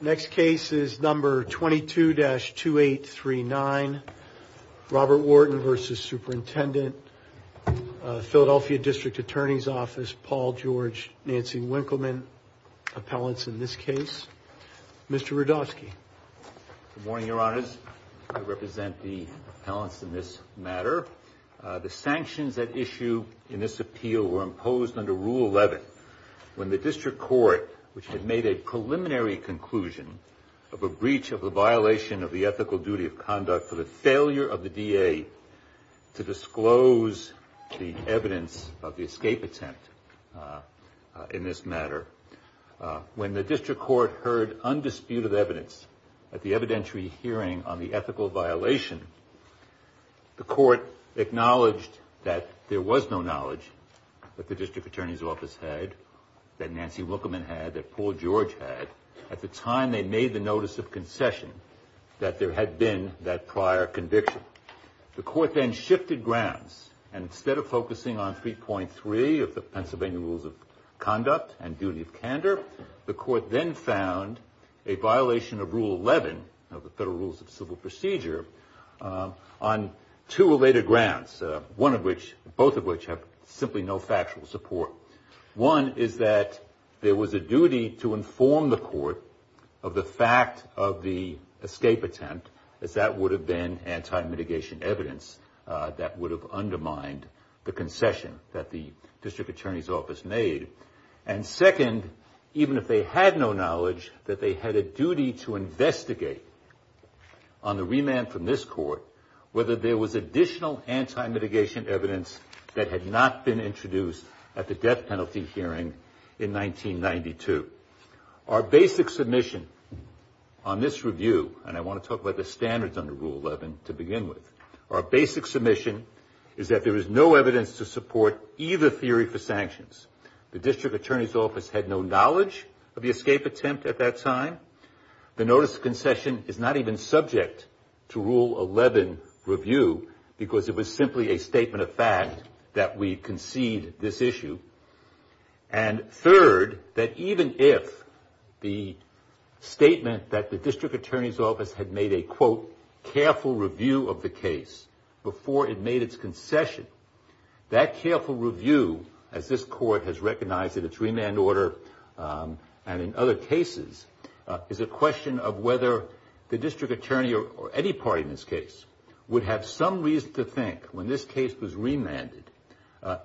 Next case is number 22-2839 Robert Wharton v. Superintendent Philadelphia District Attorney's Office Paul George Nancy Winkleman Appellants in this case Mr. Rudofsky Good morning your honors I represent the appellants in this matter the sanctions at issue in this appeal were imposed under rule 11 when the district court which had made a preliminary conclusion of a breach of the violation of the ethical duty of conduct for the failure of the D.A. to disclose the evidence of the escape attempt in this matter when the district court heard undisputed evidence at the evidentiary hearing on the ethical violation the court acknowledged that there was no knowledge that the district attorney's office had that Nancy Winkleman had that Paul George had at the time they made the notice of concession that there had been that prior conviction the court then shifted grounds and instead of focusing on 3.3 of the Pennsylvania rules of conduct and duty of procedure on two related grounds one of which both of which have simply no factual support one is that there was a duty to inform the court of the fact of the escape attempt that would have been anti-mitigation evidence that would have undermined the concession that the district attorney's office made and second even if they had no to investigate on the remand from this court whether there was additional anti-mitigation evidence that had not been introduced at the death penalty hearing in 1992. Our basic submission on this review and I want to talk about the standards under rule 11 to begin with our basic submission is that there is no evidence to support either theory for this concession is not even subject to rule 11 review because it was simply a statement of fact that we concede this issue and third that even if the statement that the district attorney's office had made a quote careful review of the case before it made its concession that careful review as this court has recognized in its remand order and in other cases is a question of whether the district attorney or any party in this case would have some reason to think when this case was remanded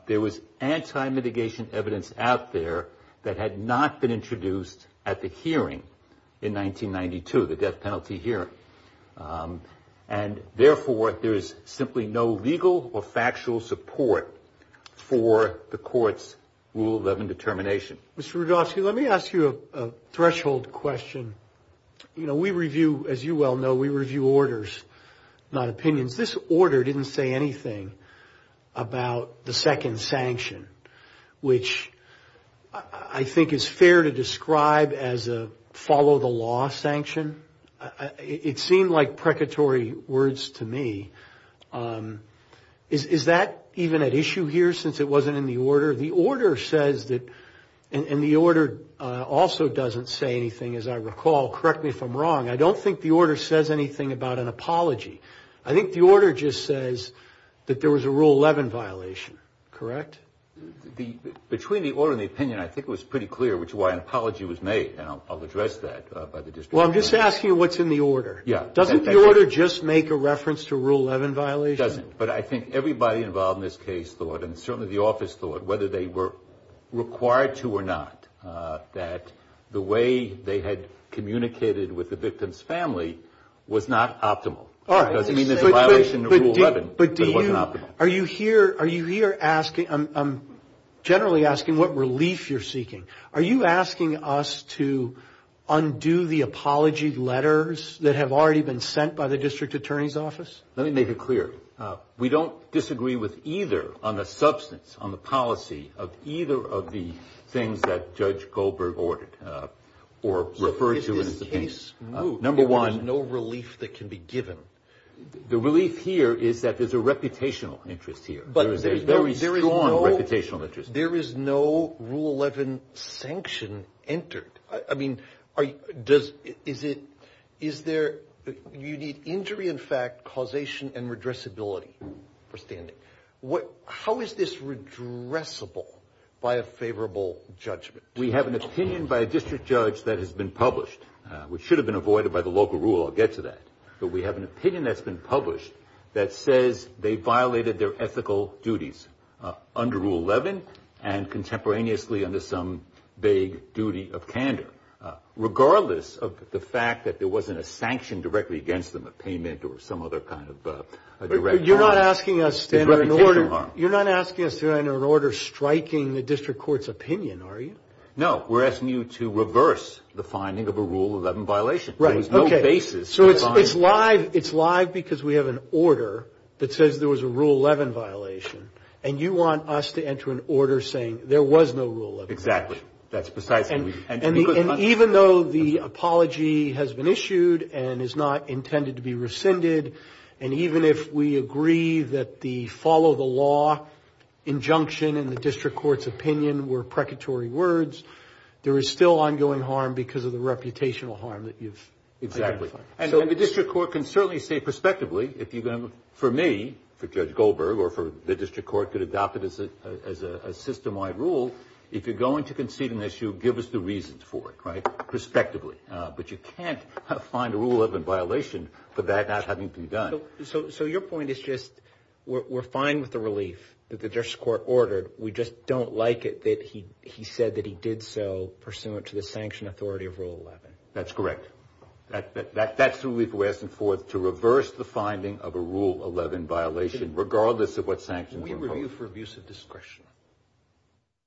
there was anti-mitigation evidence out there that had not been introduced at the hearing in 1992 the death penalty hearing and therefore there is simply no legal or factual support for the court's rule 11 determination. Mr. Rudofsky let me ask you a threshold question you know we review as you well know we review orders not opinions. This order didn't say anything about the second sanction which I think is fair to describe as a follow the law sanction. It seemed like precatory words to me. Is that even an issue here since it wasn't in the order the order says that and the order also doesn't say anything as I recall correctly from wrong I don't think the order says anything about an apology. I think the order just says that there was a rule 11 violation. Between the order and the opinion I think it was pretty clear which why an apology was made and I'll address that by the district attorney. Well I'm just asking what's in the order. Doesn't the order just make a reference to a rule 11 violation? It doesn't but I think everybody involved in this case thought and certainly the office thought whether they were required to or not that the way they had communicated with the victim's family was not optimal. But are you here are you here asking I'm generally asking what relief you're seeking. Are you asking us to undo the apology letters that have already been sent by the district attorney's office? Let me make it clear we don't disagree with either on the substance on the policy of either of the things that Judge Goldberg ordered or refers to in the case. There is no relief that can be given. The relief here is that there's a reputational interest here. There is no rule 11 sanction entered. I mean is it is there you need injury in fact causation and redressability for standing. How is this redressable by a favorable judgment? We have an opinion by a district judge that has been published which should have been avoided by the local rule I'll get to that. But we have an opinion that's been published that says they violated their ethical duties under rule 11 and contemporaneously under some vague duty of candor. Regardless of the fact that there wasn't a sanction directly against them a payment or some other kind of direct harm. You're not asking us to enter an order striking the district court's opinion are you? No. We're asking you to reverse the finding of a rule 11 violation. So it's live because we have an order that says there was a rule 11 violation and you want us to enter an order saying there was no rule 11. Exactly. And even though the apology has been issued and is not intended to be rescinded and even if we agree that the follow the law injunction in the district court's opinion were precatory words there is still ongoing harm because of the reputational harm that you've. Exactly. And the district court can certainly say prospectively for me, for Judge Goldberg or for the district court could adopt it as a system wide rule. If you're going to concede an issue give us the reasons for it prospectively. But you can't find a rule 11 violation for that not having to be done. So your point is just we're fine with the relief that the district court ordered. We just don't like it that he said that he did so pursuant to the sanction authority of rule 11. That's correct. That's who we're asking for to reverse the finding of a rule 11 violation regardless of what sanctions. We review for abuse of discretion.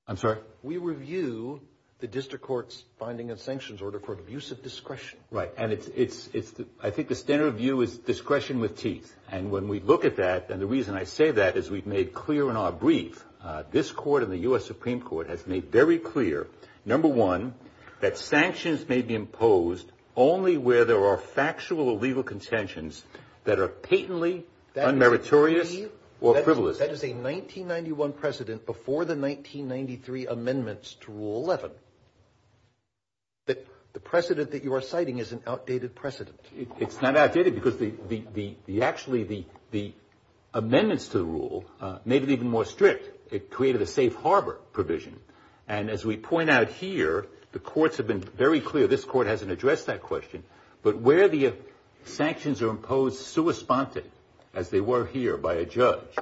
I'm sorry? We review the district court's finding of sanctions order for abuse of discretion. Right. And I think the standard of view is discretion with teeth. And when we look at that and the reason I say that is we've made clear in our brief this court and the U.S. Supreme Court has made very clear, number one, that sanctions may be imposed only where there are factual or legal contentions that are patently unmeritorious or privileged. That is a 1991 precedent before the 1993 amendments to rule 11. The precedent that you are citing is an outdated precedent. It's not outdated because actually the amendments to the rule made it even more strict. It created a safe harbor provision. And as we point out here, the courts have been very clear. This court hasn't addressed that question. But where the sanctions are imposed sua sponte, as they were here by a judge,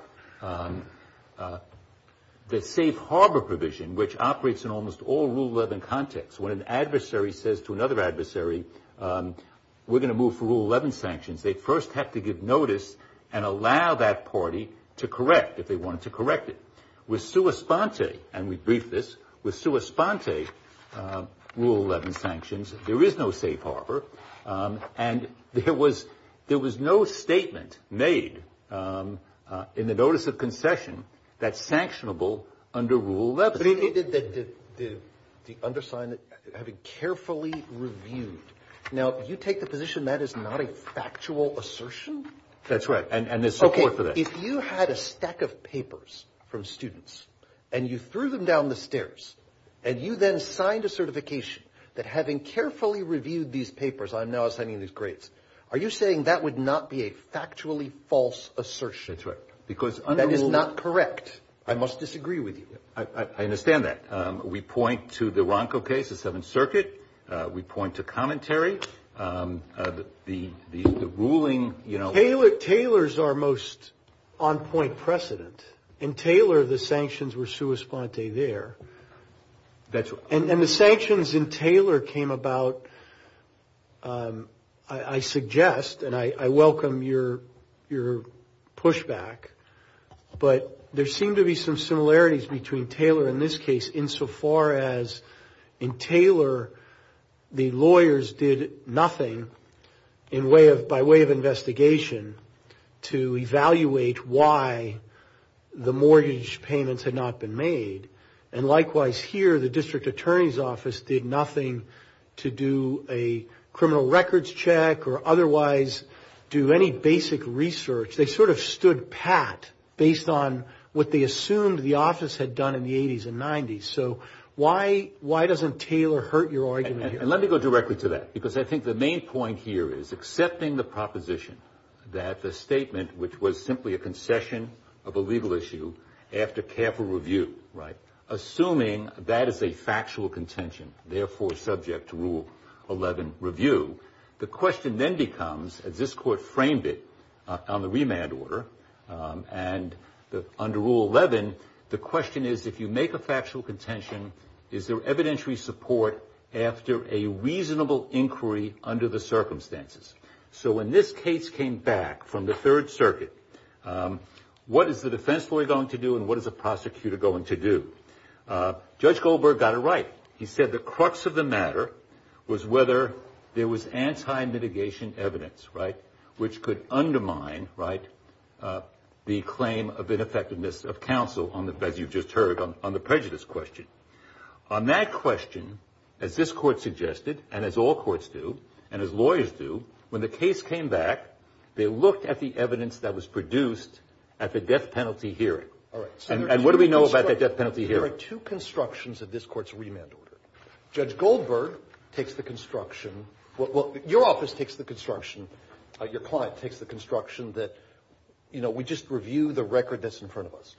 the safe harbor provision, which operates in almost all rule 11 contexts, when an adversary says to another adversary, we're going to move to rule 11 sanctions, they first have to give notice and allow that party to correct if they wanted to correct it. With sua sponte, and we briefed this, with sua sponte rule 11 sanctions, there is no safe harbor. And there was no statement made in the notice of concession that's sanctionable under rule 11. The undersigned have been carefully reviewed. Now, you take the position that is not a factual assertion? That's right. And there's support for that. If you had a stack of papers from students, and you threw them down the stairs, and you then signed a certification that having carefully reviewed these papers, I'm now assigning these grades, are you saying that would not be a factually false assertion? That's right. That is not correct. I must disagree with you. I understand that. We point to the Ronco case, the Seventh Circuit. We point to commentary. The ruling, you know. Taylor's our most on-point precedent. In Taylor, the sanctions were sua sponte there. And the sanctions in Taylor came about, I suggest, and I welcome your pushback, but there seem to be some similarities between Taylor in this case, in so far as in Taylor, the lawyers did nothing by way of investigation to evaluate why the mortgage payments had not been made. And likewise here, the district attorney's office did nothing to do a criminal records check or otherwise do any basic research. They sort of stood pat based on what they assumed the office had done in the 80s and 90s. So why doesn't Taylor hurt your argument here? And let me go directly to that, because I think the main point here is accepting the proposition that the statement, which was simply a concession of a legal issue after careful review, assuming that is a factual contention, therefore subject to Rule 11 review, the question then becomes, as this court framed it on the remand order, and under Rule 11, the question is if you make a factual contention, is there evidentiary support after a reasonable inquiry under the circumstances? So when this case came back from the Third Circuit, what is the defense lawyer going to do and what is the prosecutor going to do? Judge Goldberg got it right. He said the crux of the matter was whether there was anti-mitigation evidence, right, which could undermine the claim of ineffectiveness of counsel, as you just heard, on the prejudice question. On that question, as this court suggested, and as all courts do, and as lawyers do, when the case came back, they looked at the evidence that was produced at the death penalty hearing. And what do we know about the death penalty hearing? There are two constructions of this court's remand order. Judge Goldberg takes the construction, well, your office takes the construction, your client takes the construction that, you know, we just review the record that's in front of us.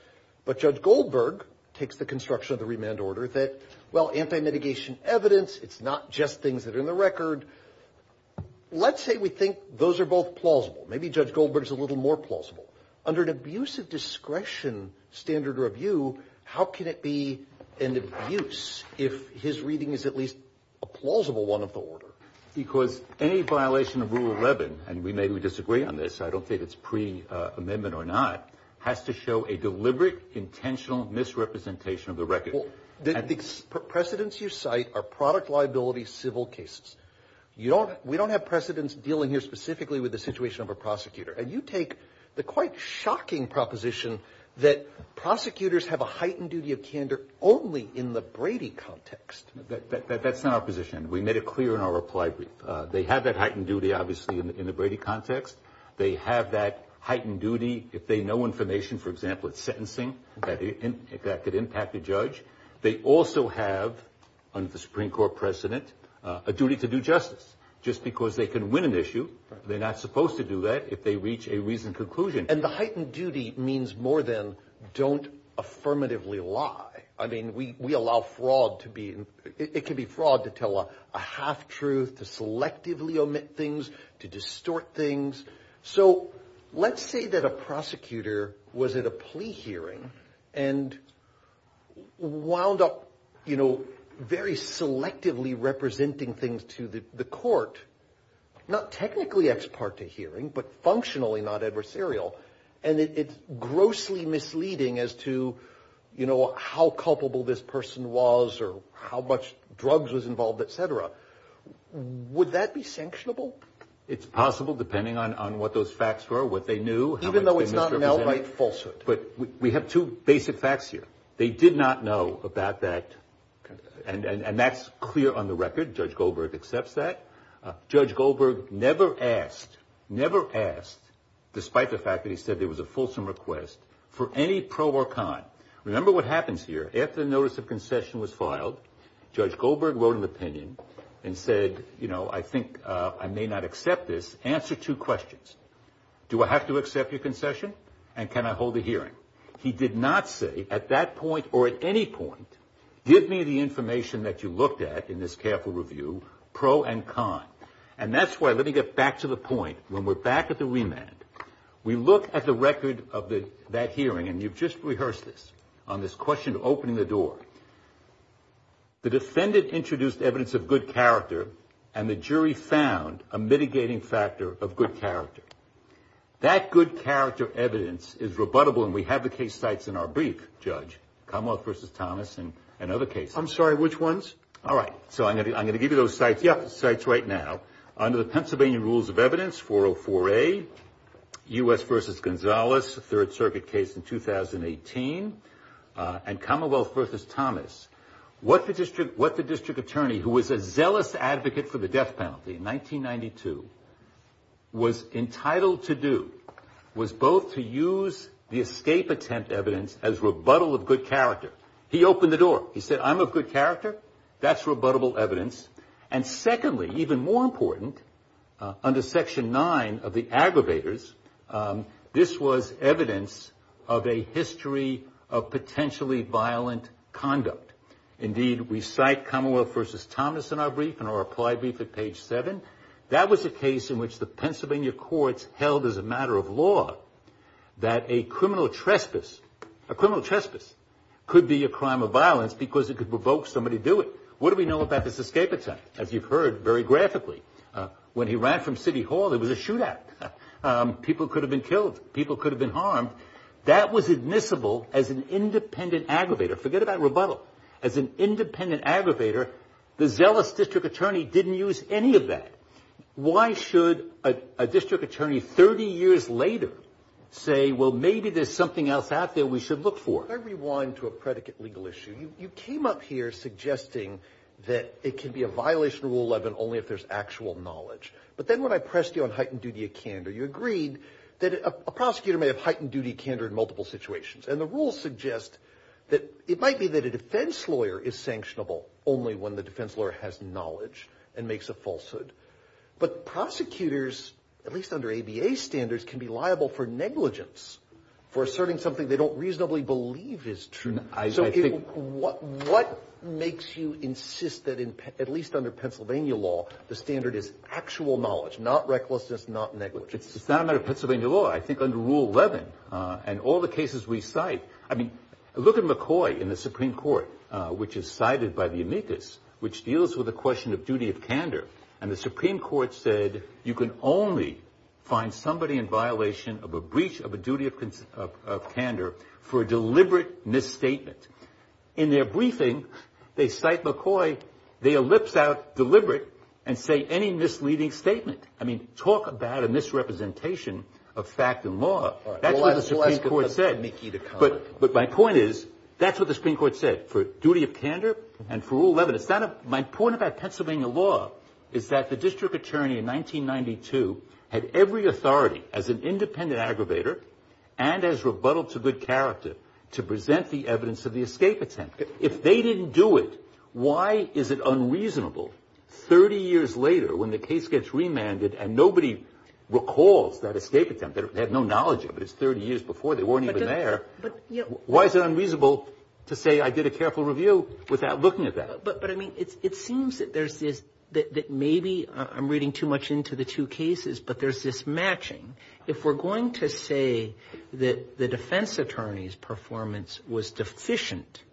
But Judge Goldberg takes the construction of the remand order that, well, anti-mitigation evidence, it's not just things that are in the record. Let's say we think those are both plausible. Maybe Judge Goldberg is a little more plausible. Under an abusive discretion standard review, how can it be an abuse if his reading is at least a plausible one of the order? Because any violation of Rule 11, and we may disagree on this, I don't think it's pre-amendment or not, has to show a deliberate, intentional misrepresentation of the record. The precedents you cite are product liability civil cases. We don't have precedents dealing here specifically with the situation of a prosecutor. And you take the quite shocking proposition that prosecutors have a heightened duty of candor only in the Brady context. That's not our position, and we made it clear in our reply. They have that heightened duty, obviously, in the Brady context. They have that heightened duty if they know information, for example, of sentencing that could impact the judge. They also have, under the Supreme Court precedent, a duty to do justice. Just because they can win an issue, they're not supposed to do that if they reach a reasoned conclusion. And the heightened duty means more than don't affirmatively lie. I mean, we allow fraud to be, it can be fraud to tell a half-truth, to selectively omit things, to distort things. So let's say that a prosecutor was at a plea hearing and wound up very selectively representing things to the court. Not technically ex parte hearing, but functionally not adversarial. And it's grossly misleading as to how culpable this person was or how much drugs was involved, etc. Would that be sanctionable? It's possible, depending on what those facts were, what they knew. Even though it's not an outright falsehood. But we have two basic facts here. They did not know about that, and that's clear on the record. Judge Goldberg accepts that. Judge Goldberg never asked, never asked, despite the fact that he said it was a fulsome request, for any pro or con. Remember what happens here. After the notice of concession was filed, Judge Goldberg wrote an opinion and said, you know, I think I may not accept this. Answer two questions. Do I have to accept your concession, and can I hold a hearing? He did not say at that point or at any point, give me the information that you looked at in this careful review, pro and con. And that's why, let me get back to the point, when we're back at the remand, we look at the record of that hearing, and you've just rehearsed this, on this question opening the door. The defendant introduced evidence of good character, and the jury found a mitigating factor of good character. That good character evidence is rebuttable, and we have the case sites in our brief, Judge. Commonwealth v. Thomas and other cases. I'm sorry, which ones? All right. So I'm going to give you those sites. Yeah, the sites right now. Under the Pennsylvania Rules of Evidence, 404A, U.S. v. Gonzalez, Third Circuit case in 2018, and Commonwealth v. Thomas, what the district attorney, who was a zealous advocate for the death penalty in 1992, was entitled to do, was both to use the escape attempt evidence as rebuttal of good character. He opened the door. He said, I'm of good character. That's rebuttable evidence. And secondly, even more important, under Section 9 of the aggravators, this was evidence of a history of potentially violent conduct. Indeed, we cite Commonwealth v. Thomas in our brief, in our applied brief at page 7. That was a case in which the Pennsylvania courts held as a matter of law that a criminal trespass, a criminal trespass, could be a crime of violence because it could provoke somebody to do it. So what do we know about this escape attempt? As you've heard, very graphically, when he ran from city hall, there was a shootout. People could have been killed. People could have been harmed. That was admissible as an independent aggravator. Forget about rebuttal. As an independent aggravator, the zealous district attorney didn't use any of that. Why should a district attorney 30 years later say, well, maybe there's something else out there we should look for? To everyone, to a predicate legal issue, you came up here suggesting that it can be a violation of Rule 11 only if there's actual knowledge. But then when I pressed you on heightened duty of candor, you agreed that a prosecutor may have heightened duty of candor in multiple situations. And the rules suggest that it might be that a defense lawyer is sanctionable only when the defense lawyer has knowledge and makes a falsehood. But prosecutors, at least under ABA standards, can be liable for negligence, for asserting something they don't reasonably believe is true. So what makes you insist that, at least under Pennsylvania law, the standard is actual knowledge, not recklessness, not negligence? It's not a matter of Pennsylvania law. I think under Rule 11 and all the cases we cite, I mean, look at McCoy in the Supreme Court, which is cited by the amicus, which deals with the question of duty of candor. And the Supreme Court said you can only find somebody in violation of a breach of a duty of candor for a deliberate misstatement. In their briefing, they cite McCoy, they ellipse out deliberate and say any misleading statement. I mean, talk about a misrepresentation of fact and law. That's what the Supreme Court said. But my point is that's what the Supreme Court said for duty of candor and for Rule 11. My point about Pennsylvania law is that the district attorney in 1992 had every authority as an independent aggravator and as rebuttal to good character to present the evidence of the escape attempt. If they didn't do it, why is it unreasonable 30 years later when the case gets remanded and nobody recalls that escape attempt? They have no knowledge of it. It's 30 years before. They weren't even there. Why is it unreasonable to say I did a careful review without looking at that? But, I mean, it seems that there's this, that maybe I'm reading too much into the two cases, but there's this matching. If we're going to say that the defense attorney's performance was deficient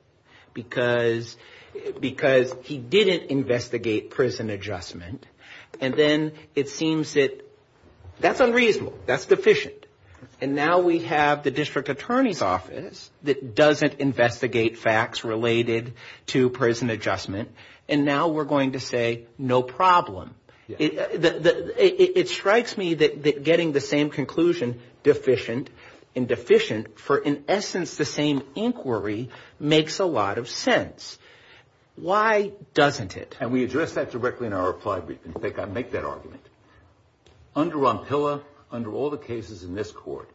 because he didn't investigate prison adjustment, and then it seems that that's unreasonable, that's deficient, and now we have the district attorney's office that doesn't investigate facts related to prison adjustment, and now we're going to say no problem. It strikes me that getting the same conclusion, deficient and deficient, for in essence the same inquiry, makes a lot of sense. Why doesn't it? And we address that directly in our reply brief, and I think I make that argument. Under Rompilla, under all the cases in this court,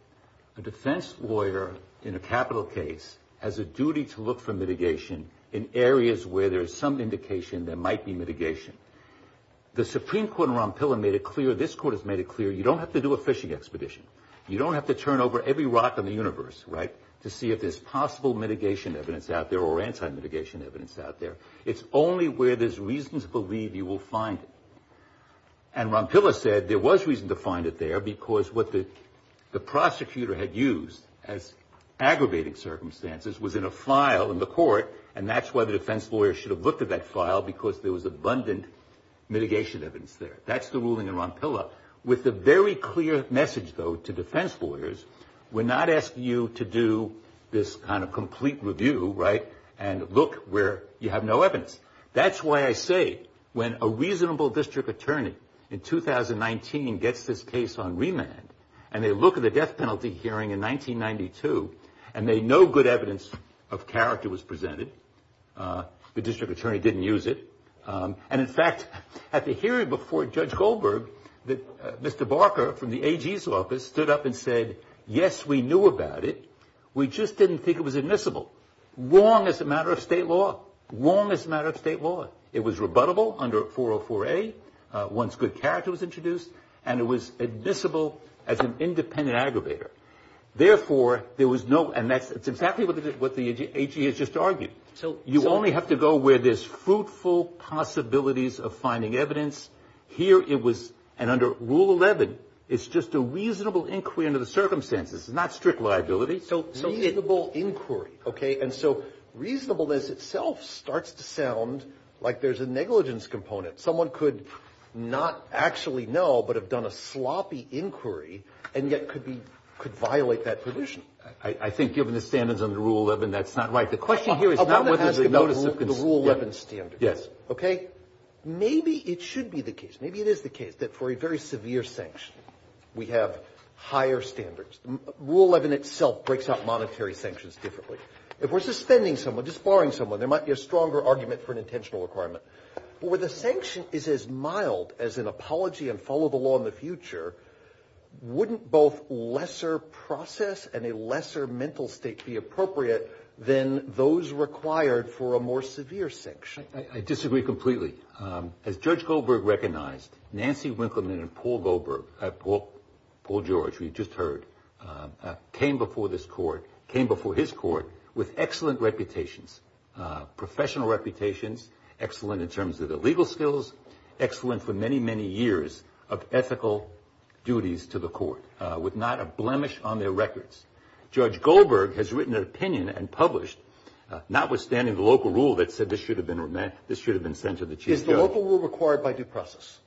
the defense lawyer in a capital case has a duty to look for mitigation in areas where there's some indication there might be mitigation. The Supreme Court in Rompilla made it clear, this court has made it clear, you don't have to do a fishing expedition. You don't have to turn over every rock in the universe to see if there's possible mitigation evidence out there or anti-mitigation evidence out there. It's only where there's reason to believe you will find it, and Rompilla said there was reason to find it there because what the prosecutor had used as aggravating circumstances was in a file in the court, and that's why the defense lawyer should have looked at that file because there was abundant mitigation evidence there. That's the ruling in Rompilla. With a very clear message, though, to defense lawyers, we're not asking you to do this kind of complete review, right, and look where you have no evidence. That's why I say when a reasonable district attorney in 2019 gets this case on remand and they look at the death penalty hearing in 1992 and they know good evidence of character was presented, the district attorney didn't use it, and, in fact, at the hearing before Judge Goldberg, Mr. Barker from the AG's office stood up and said, yes, we knew about it, we just didn't think it was admissible. Wrong as a matter of state law. Wrong as a matter of state law. It was rebuttable under 404A, once good character was introduced, and it was admissible as an independent aggravator. Therefore, there was no, and that's exactly what the AG has just argued. You only have to go where there's fruitful possibilities of finding evidence. Here it was, and under Rule 11, it's just a reasonable inquiry under the circumstances, not strict liability. Reasonable inquiry, okay, and so reasonableness itself starts to sound like there's a negligence component. Someone could not actually know but have done a sloppy inquiry and yet could violate that position. I think given the standards under Rule 11, that's not right. The question here is not whether there's a notice of the Rule 11 standards, okay? Maybe it should be the case. Maybe it is the case that for a very severe sanction, we have higher standards. Rule 11 itself breaks up monetary sanctions differently. If we're suspending someone, just barring someone, there might be a stronger argument for an intentional requirement. But where the sanction is as mild as an apology and follow the law in the future, wouldn't both lesser process and a lesser mental state be appropriate than those required for a more severe sanction? I disagree completely. As Judge Goldberg recognized, Nancy Winkleman and Paul George, we just heard, came before his court with excellent reputations, professional reputations, excellent in terms of their legal skills, excellent for many, many years of ethical duties to the court, with not a blemish on their records. Notwithstanding the local rule that said this should have been sent to the chief judge. Is the local rule required by due process?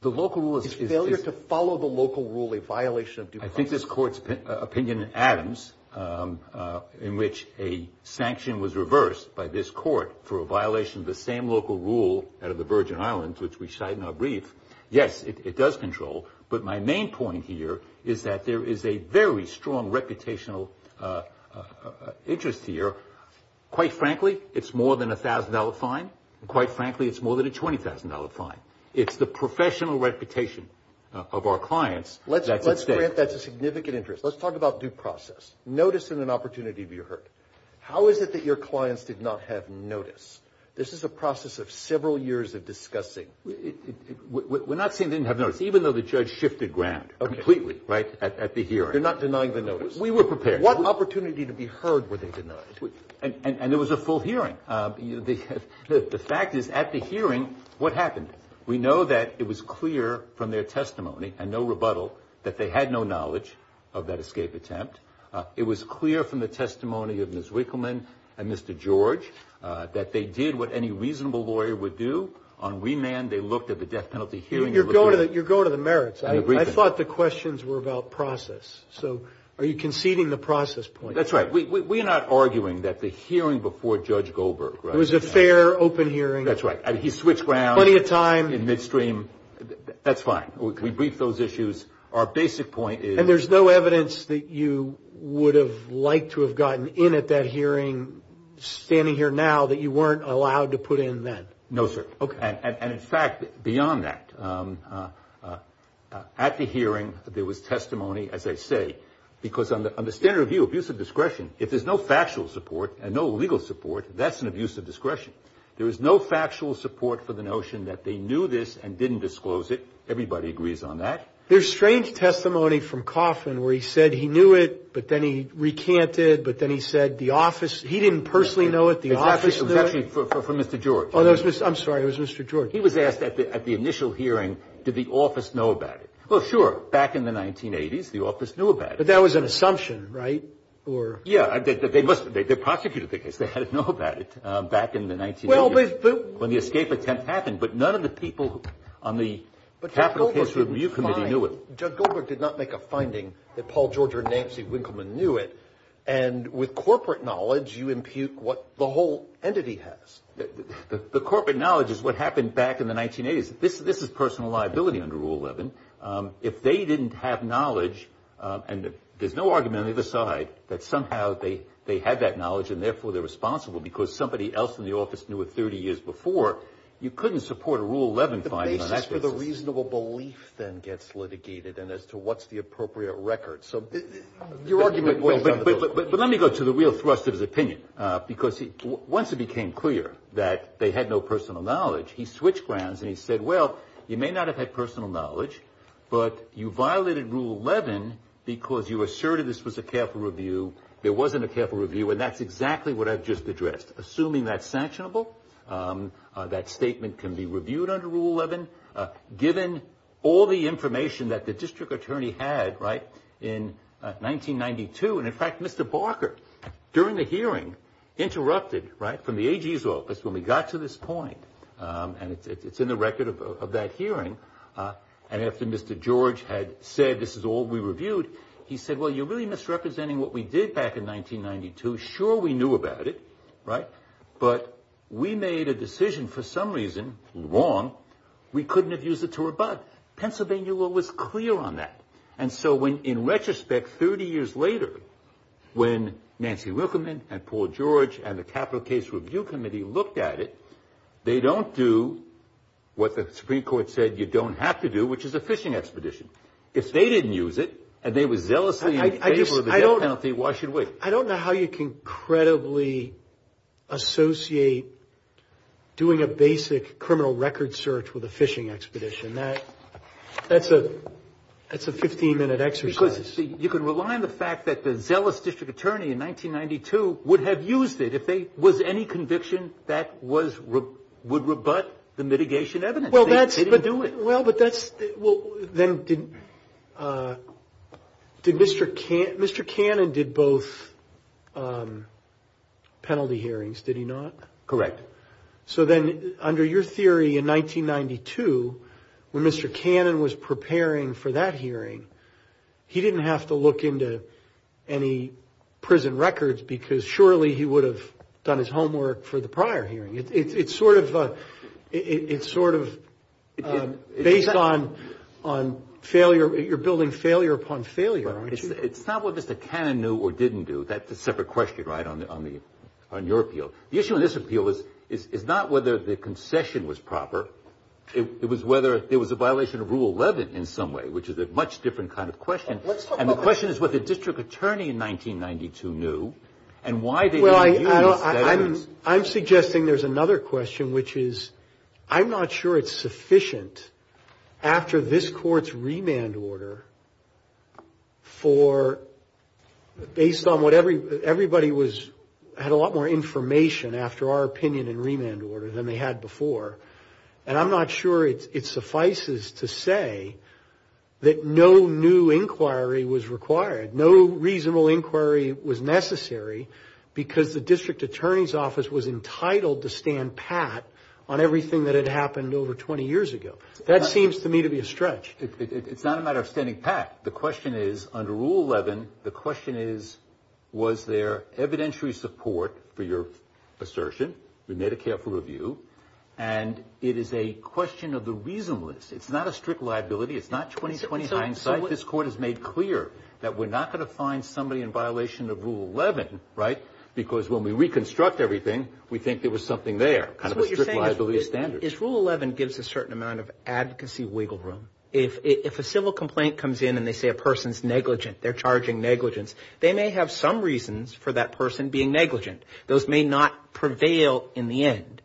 The local rule is a failure to follow the local rule, a violation of due process. I think this court's opinion in Adams, in which a sanction was reversed by this court for a violation of the same local rule out of the Virgin Islands, which we cite in our brief, yes, it does control. But my main point here is that there is a very strong reputational interest here. Quite frankly, it's more than a $1,000 fine. Quite frankly, it's more than a $20,000 fine. It's the professional reputation of our clients. Let's grant that significant interest. Let's talk about due process. Notice and an opportunity to be heard. How is it that your clients did not have notice? This is a process of several years of discussing. We're not saying they didn't have notice, even though the judge shifted ground completely at the hearing. They're not denying the notice. We were prepared. What opportunity to be heard were they denied? And there was a full hearing. The fact is, at the hearing, what happened? We know that it was clear from their testimony and no rebuttal that they had no knowledge of that escape attempt. It was clear from the testimony of Ms. Wickleman and Mr. George that they did what any reasonable lawyer would do on remand, they looked at the death penalty hearing. You're going to the merits. I thought the questions were about process. Are you conceding the process point? That's right. We're not arguing that the hearing before Judge Goldberg was a fair, open hearing. That's right. He switched ground in midstream. That's fine. We briefed those issues. Our basic point is... And there's no evidence that you would have liked to have gotten in at that hearing, standing here now, that you weren't allowed to put in then? No, sir. And in fact, beyond that, at the hearing, there was testimony, as I say, because on the standard of view of use of discretion, if there's no factual support and no legal support, that's an abuse of discretion. There is no factual support for the notion that they knew this and didn't disclose it. Everybody agrees on that. There's strange testimony from Coffman where he said he knew it, but then he recanted, but then he said the office... He didn't personally know it, the office knew it. I'm sorry. It was Mr. George. He was asked at the initial hearing, did the office know about it? Well, sure. Back in the 1980s, the office knew about it. But that was an assumption, right? Yeah. They're prosecutor figures. They had to know about it back in the 1980s when the escape attempt happened. But none of the people on the Capitol case review committee knew it. Judge Goldberg did not make a finding that Paul George or Nancy Winkleman knew it. And with corporate knowledge, you impute what the whole entity has. The corporate knowledge is what happened back in the 1980s. This was personal liability under Rule 11. If they didn't have knowledge, and there's no argument on either side, that somehow they had that knowledge and therefore they're responsible because somebody else in the office knew it 30 years before, you couldn't support a Rule 11 finding. The basis for the reasonable belief then gets litigated and as to what's the appropriate record. But let me go to the real thrust of his opinion because once it became clear that they had no personal knowledge, he switched grounds and he said, well, you may not have had personal knowledge, but you violated Rule 11 because you asserted this was a careful review. There wasn't a careful review, and that's exactly what I've just addressed. Assuming that's sanctionable, that statement can be reviewed under Rule 11, given all the information that the district attorney had in 1992. And, in fact, Mr. Barker, during the hearing, interrupted from the AG's office when we got to this point, and it's in the record of that hearing, and after Mr. George had said this is all we reviewed, he said, well, you're really misrepresenting what we did back in 1992. Sure, we knew about it, but we made a decision for some reason wrong. We couldn't have used it to rebut. Pennsylvania law was clear on that. And so, in retrospect, 30 years later, when Nancy Rickerman and Paul George and the Capital Case Review Committee looked at it, they don't do what the Supreme Court said you don't have to do, which is a phishing expedition. If they didn't use it and they were zealously in favor of the death penalty, why should we? I don't know how you can credibly associate doing a basic criminal record search with a phishing expedition. That's a 15-minute exercise. You can rely on the fact that the zealous district attorney in 1992 would have used it if there was any conviction that would rebut the mitigation evidence. Mr. Cannon did both penalty hearings, did he not? Correct. So then, under your theory, in 1992, when Mr. Cannon was preparing for that hearing, he didn't have to look into any prison records because surely he would have done his homework for the prior hearing. It's sort of based on failure. You're building failure upon failure. It's not whether Mr. Cannon knew or didn't do. That's a separate question, right, on your appeal. The issue in this appeal is not whether the concession was proper. It was whether there was a violation of Rule 11 in some way, which is a much different kind of question. And the question is whether the district attorney in 1992 knew and why they didn't use that evidence. I'm suggesting there's another question, which is I'm not sure it's sufficient after this court's remand order for, based on what everybody had a lot more information after our opinion in remand order than they had before, and I'm not sure it suffices to say that no new inquiry was required, no reasonable inquiry was necessary, because the district attorney's office was entitled to stand pat on everything that had happened over 20 years ago. That seems to me to be a stretch. It's not a matter of standing pat. The question is, under Rule 11, the question is was there evidentiary support for your assertion, your Medicare for Review, and it is a question of the reasonless. It's not a strict liability. It's not 20-29 sites. This court has made clear that we're not going to find somebody in violation of Rule 11, right, because when we reconstruct everything, we think there was something there, kind of a strict liability standard. So what you're saying is Rule 11 gives a certain amount of advocacy wiggle room. If a civil complaint comes in and they say a person's negligent, they're charging negligence, they may have some reasons for that person being negligent. Those may not prevail in the end.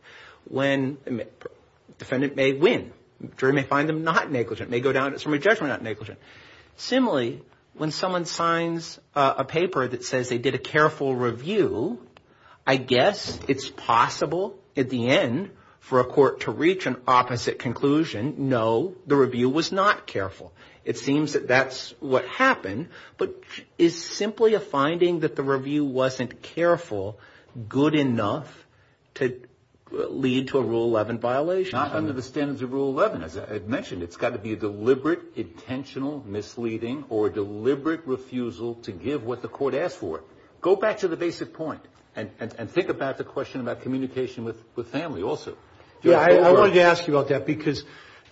Defendant may win. The jury may find them not negligent. It may go down to somebody's judgment not negligent. Similarly, when someone signs a paper that says they did a careful review, I guess it's possible at the end for a court to reach an opposite conclusion, no, the review was not careful. It seems that that's what happened. But is simply a finding that the review wasn't careful good enough to lead to a Rule 11 violation? It's not under the standards of Rule 11, as I mentioned. It's got to be deliberate, intentional, misleading, or deliberate refusal to give what the court asked for. Go back to the basic point and think about the question about communication with family also. Yeah, I wanted to ask you about that because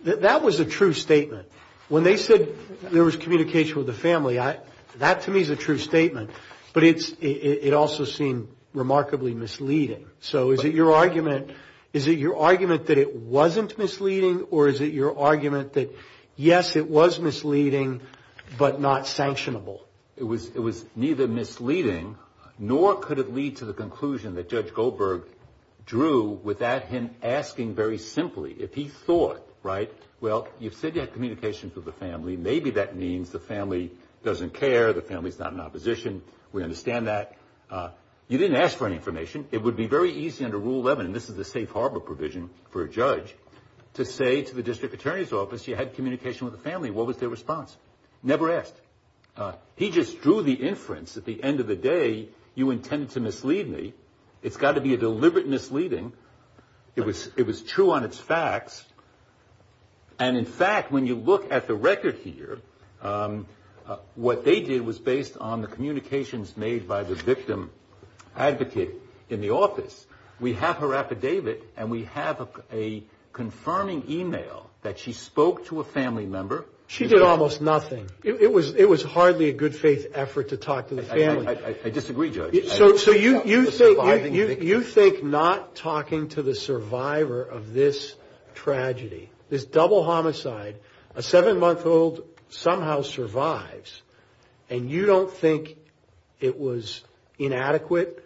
that was a true statement. When they said there was communication with the family, that to me is a true statement, but it also seemed remarkably misleading. So is it your argument that it wasn't misleading, or is it your argument that, yes, it was misleading but not sanctionable? It was neither misleading nor could it lead to the conclusion that Judge Goldberg drew without him asking very simply. If he thought, right, well, you said you had communication with the family. Maybe that means the family doesn't care, the family's not in opposition. We understand that. You didn't ask for any information. It would be very easy under Rule 11, and this is the safe harbor provision for a judge, to say to the district attorney's office you had communication with the family. What was their response? Never asked. He just drew the inference at the end of the day you intended to mislead me. It's got to be a deliberate misleading. It was true on its facts. And in fact, when you look at the record here, what they did was based on the communications made by the victim advocate in the office. We have her affidavit, and we have a confirming e-mail that she spoke to a family member. She did almost nothing. It was hardly a good faith effort to talk to the family. I disagree, Judge. So you think not talking to the survivor of this tragedy, this double homicide, a seven-month-old somehow survives, and you don't think it was inadequate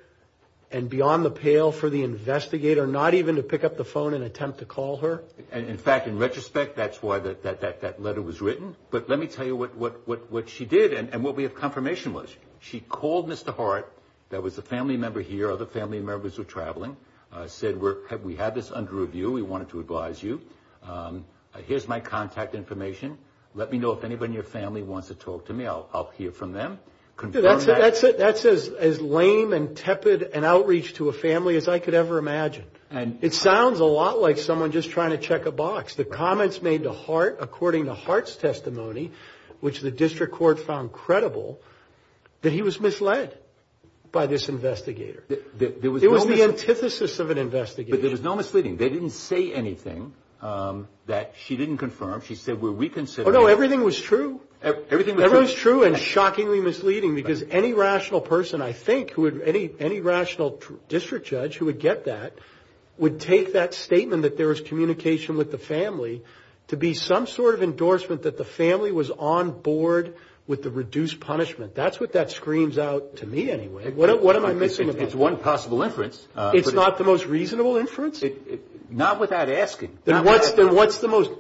and beyond the pale for the investigator not even to pick up the phone and attempt to call her? In fact, in retrospect, that's why that letter was written. But let me tell you what she did and what we have confirmation was. She called Mr. Hart. There was a family member here. Other family members were traveling. Said, we have this under review. We wanted to advise you. Here's my contact information. Let me know if anybody in your family wants to talk to me. I'll hear from them. That's as lame and tepid an outreach to a family as I could ever imagine. It sounds a lot like someone just trying to check a box. The comments made to Hart, according to Hart's testimony, which the district court found credible, that he was misled by this investigator. It was the antithesis of an investigator. But there was no misleading. They didn't say anything that she didn't confirm. She said, we're reconsidering. Oh, no, everything was true. Everything was true. Everything was true and shockingly misleading because any rational person, I think, any rational district judge who would get that would take that statement that there was communication with the family to be some sort of endorsement that the family was on board with the reduced punishment. That's what that screens out to me anyway. What am I missing? It's one possible inference. It's not the most reasonable inference? Not without asking. Then what's the most?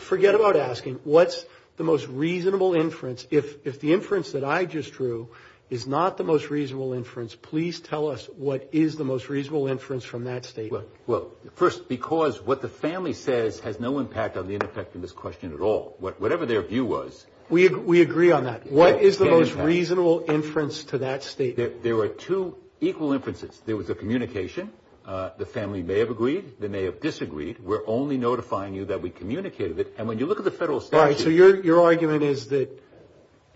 Forget about asking. What's the most reasonable inference? If the inference that I just drew is not the most reasonable inference, please tell us what is the most reasonable inference from that statement. Well, first, because what the family says has no impact on the effect of this question at all. Whatever their view was. We agree on that. What is the most reasonable inference to that statement? There were two equal inferences. There was a communication. The family may have agreed. They may have disagreed. We're only notifying you that we communicated it. All right, so your argument is that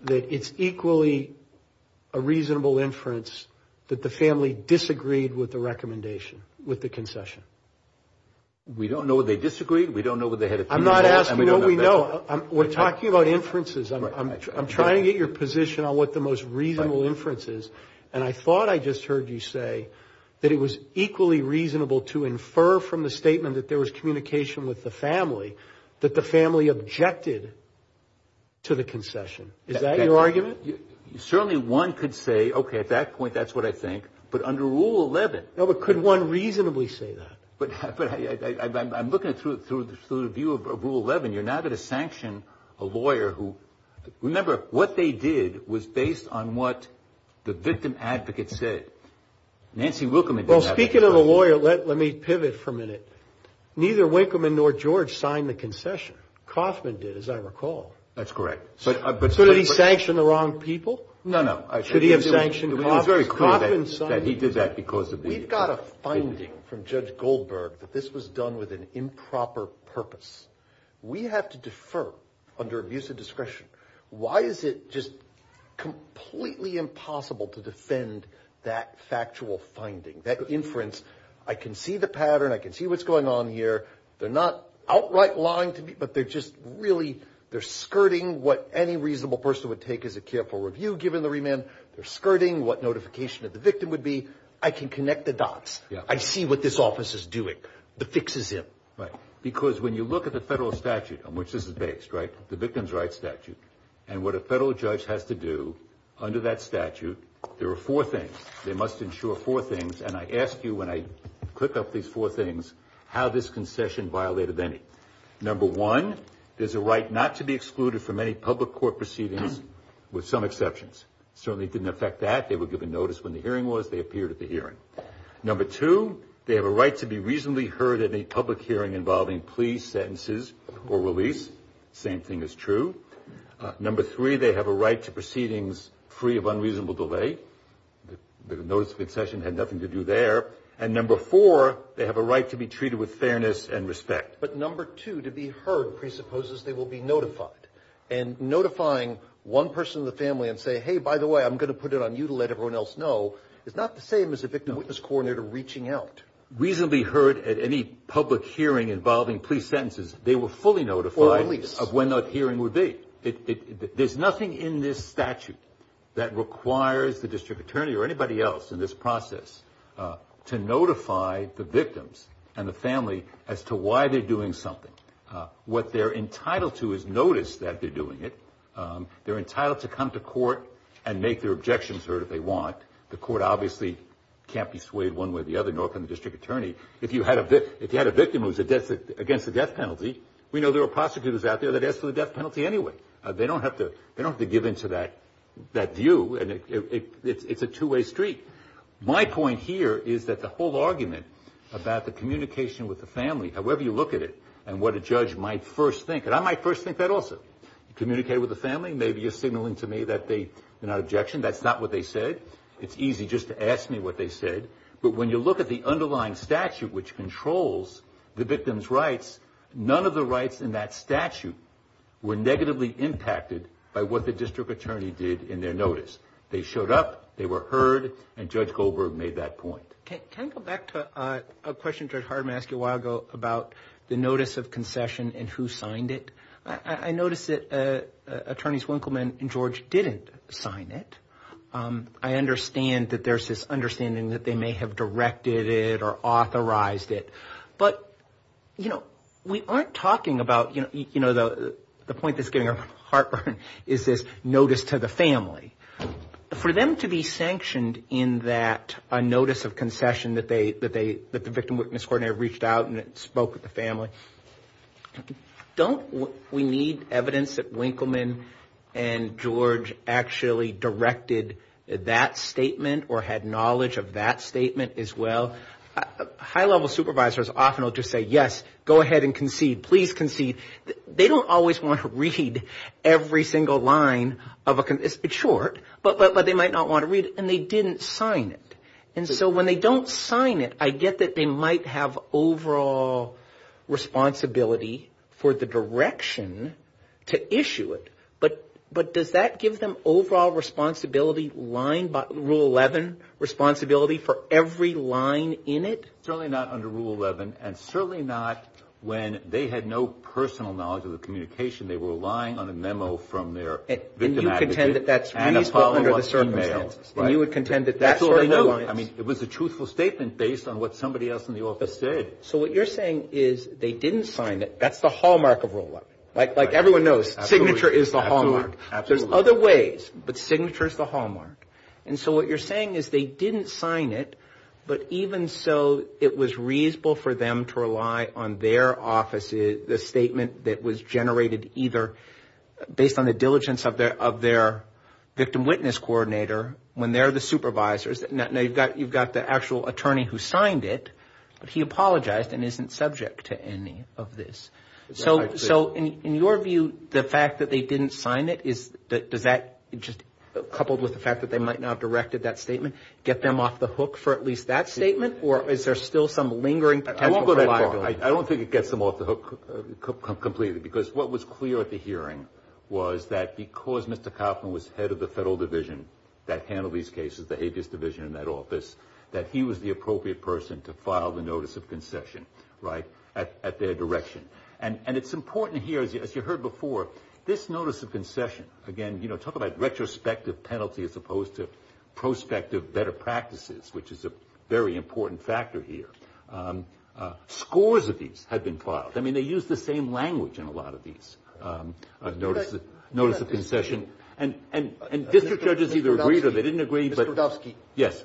it's equally a reasonable inference that the family disagreed with the recommendation, with the concession. We don't know what they disagreed. We don't know what they had agreed on. I'm not asking what we know. We're talking about inferences. I'm trying to get your position on what the most reasonable inference is, and I thought I just heard you say that it was equally reasonable to infer from the statement that there was communication with the family that the family objected to the concession. Is that your argument? Certainly, one could say, okay, at that point, that's what I think, but under Rule 11. No, but could one reasonably say that? But I'm looking through the view of Rule 11. You're not going to sanction a lawyer who, remember, what they did was based on what the victim advocate said. Nancy Wickerman did that. Well, speaking of a lawyer, let me pivot for a minute. Neither Wickerman nor George signed the concession. Coffman did, as I recall. That's correct. Could he sanction the wrong people? No, no. Could he have sanctioned Coffman? Coffman signed it. He did that because of legal reasons. We got a finding from Judge Goldberg that this was done with an improper purpose. We have to defer under abuse of discretion. Why is it just completely impossible to defend that factual finding, that inference? I can see the pattern. I can see what's going on here. They're not outright lying, but they're just really skirting what any reasonable person would take as a careful review, given the remand. They're skirting what notification of the victim would be. I can connect the dots. I see what this office is doing. The fix is him. Right, because when you look at the federal statute, which is the base, right, the victim's rights statute, and what a federal judge has to do under that statute, there are four things. They must ensure four things, and I ask you, when I pick up these four things, how this concession violated any. Number one, there's a right not to be excluded from any public court proceedings, with some exceptions. It certainly didn't affect that. They were given notice when the hearing was. They appeared at the hearing. Number two, they have a right to be reasonably heard at any public hearing involving pleas, sentences, or release. Same thing is true. Number three, they have a right to proceedings free of unreasonable delay. The notice of concession had nothing to do there. And number four, they have a right to be treated with fairness and respect. But number two, to be heard presupposes they will be notified. And notifying one person in the family and saying, hey, by the way, I'm going to put it on you to let everyone else know, is not the same as a victim witness coordinator reaching out. If they were reasonably heard at any public hearing involving plea sentences, they were fully notified of when that hearing would be. There's nothing in this statute that requires the district attorney or anybody else in this process to notify the victims and the family as to why they're doing something. What they're entitled to is notice that they're doing it. They're entitled to come to court and make their objections heard if they want. The court obviously can't be swayed one way or the other, nor can the district attorney. If you had a victim who was against a death penalty, we know there are prostitutes out there that ask for the death penalty anyway. They don't have to give in to that view. It's a two-way street. My point here is that the whole argument about the communication with the family, however you look at it and what a judge might first think, and I might first think that also. Communicate with the family may be a stimulant to me that they are not objection. That's not what they said. It's easy just to ask me what they said. But when you look at the underlying statute which controls the victim's rights, none of the rights in that statute were negatively impacted by what the district attorney did in their notice. They showed up. They were heard, and Judge Goldberg made that point. Can I go back to a question Judge Hardeman asked you a while ago about the notice of concession and who signed it? I noticed that Attorneys Winkelman and George didn't sign it. I understand that there's this understanding that they may have directed it or authorized it. But, you know, we aren't talking about, you know, the point that's getting our heartburn is this notice to the family. For them to be sanctioned in that notice of concession that the victim witness coordinator reached out and spoke with the family, don't we need evidence that Winkelman and George actually directed that statement or had knowledge of that statement as well? High-level supervisors often will just say, yes, go ahead and concede. Please concede. They don't always want to read every single line of a concession. It's short, but they might not want to read it. And they didn't sign it. And so when they don't sign it, I get that they might have overall responsibility for the direction to issue it. But does that give them overall responsibility, rule 11 responsibility for every line in it? Certainly not under rule 11. And certainly not when they had no personal knowledge of the communication. They were relying on a memo from their victim advocacy. And you contend that that's reasonable under the circumstances. And you would contend that that's what they noticed. I mean, it was a truthful statement based on what somebody else in the office said. So what you're saying is they didn't sign it. That's the hallmark of rule 11. Like everyone knows, signature is the hallmark. Absolutely. There's other ways, but signature is the hallmark. And so what you're saying is they didn't sign it, but even so, it was reasonable for them to rely on their offices, the statement that was generated either based on the diligence of their victim witness coordinator, when they're the supervisors, and you've got the actual attorney who signed it, but he apologized and isn't subject to any of this. So in your view, the fact that they didn't sign it, does that, coupled with the fact that they might not have directed that statement, get them off the hook for at least that statement? Or is there still some lingering potential? I won't go that far. I don't think it gets them off the hook completely because what was clear at the hearing was that because Mr. Kaufman was head of the federal division that handled these cases, the habeas division in that office, that he was the appropriate person to file the notice of concession at their direction. And it's important here, as you heard before, this notice of concession, again, talk about retrospective penalty as opposed to prospective better practices, which is a very important factor here. Scores of these have been filed. I mean, they use the same language in a lot of these, notice of concession. And district judges either agreed or they didn't agree. Mr. Rodofsky. Yes.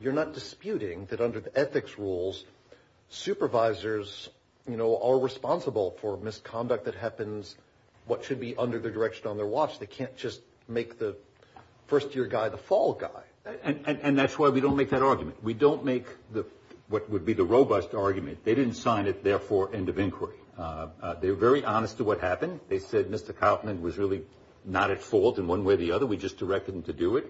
You're not disputing that under the ethics rules, supervisors are responsible for misconduct that happens, what should be under the direction on their watch. They can't just make the first year guy the fall guy. And that's why we don't make that argument. We don't make what would be the robust argument. They didn't sign it there for end of inquiry. They were very honest to what happened. They said Mr. Kaufman was really not at fault in one way or the other. We just directed him to do it.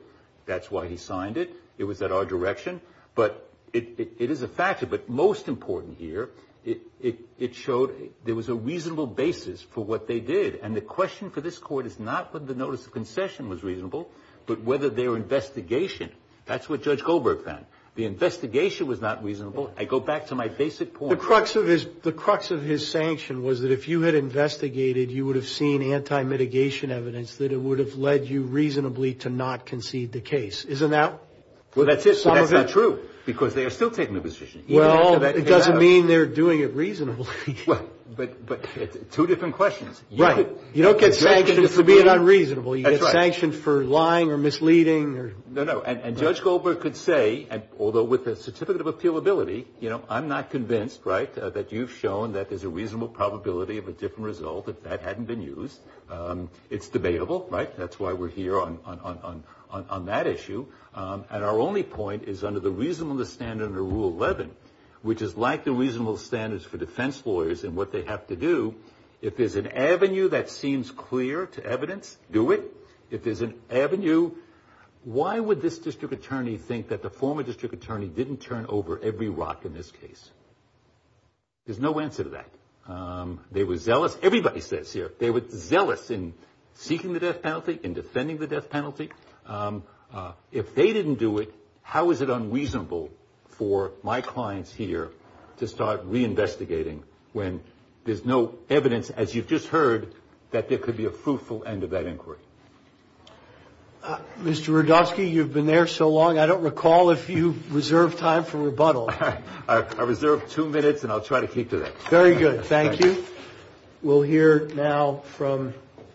That's why he signed it. It was at our direction. But it is a factor. But most important here, it showed there was a reasonable basis for what they did. And the question for this court is not whether the notice of concession was reasonable, but whether their investigation, that's what Judge Goldberg found. The investigation was not reasonable. I go back to my basic point. The crux of his sanction was that if you had investigated, you would have seen anti-mitigation evidence that it would have led you reasonably to not concede the case. Isn't that some of it? Well, that's not true because they are still taking the position. Well, it doesn't mean they're doing it reasonably. Well, but two different questions. Right. You don't get sanctioned for being unreasonable. That's right. You get sanctioned for lying or misleading. No, no. And Judge Goldberg could say, although with a certificate of appealability, I'm not convinced that you've shown that there's a reasonable probability of a different result if that hadn't been used. It's debatable. That's why we're here on that issue. And our only point is under the reasonableness standard under Rule 11, which is like the reasonable standards for defense lawyers and what they have to do, if there's an avenue that seems clear to evidence, do it. If there's an avenue, why would this district attorney think that the former district attorney didn't turn over every rock in this case? There's no answer to that. They were zealous. Everybody says here they were zealous in seeking the death penalty, in defending the death penalty. If they didn't do it, how is it unreasonable for my clients here to start reinvestigating when there's no evidence, as you've just heard, that there could be a fruitful end of that inquiry? Mr. Rudofsky, you've been there so long, I don't recall if you've reserved time for rebuttal. I reserve two minutes, and I'll try to keep to that. Very good. Thank you. We'll hear now from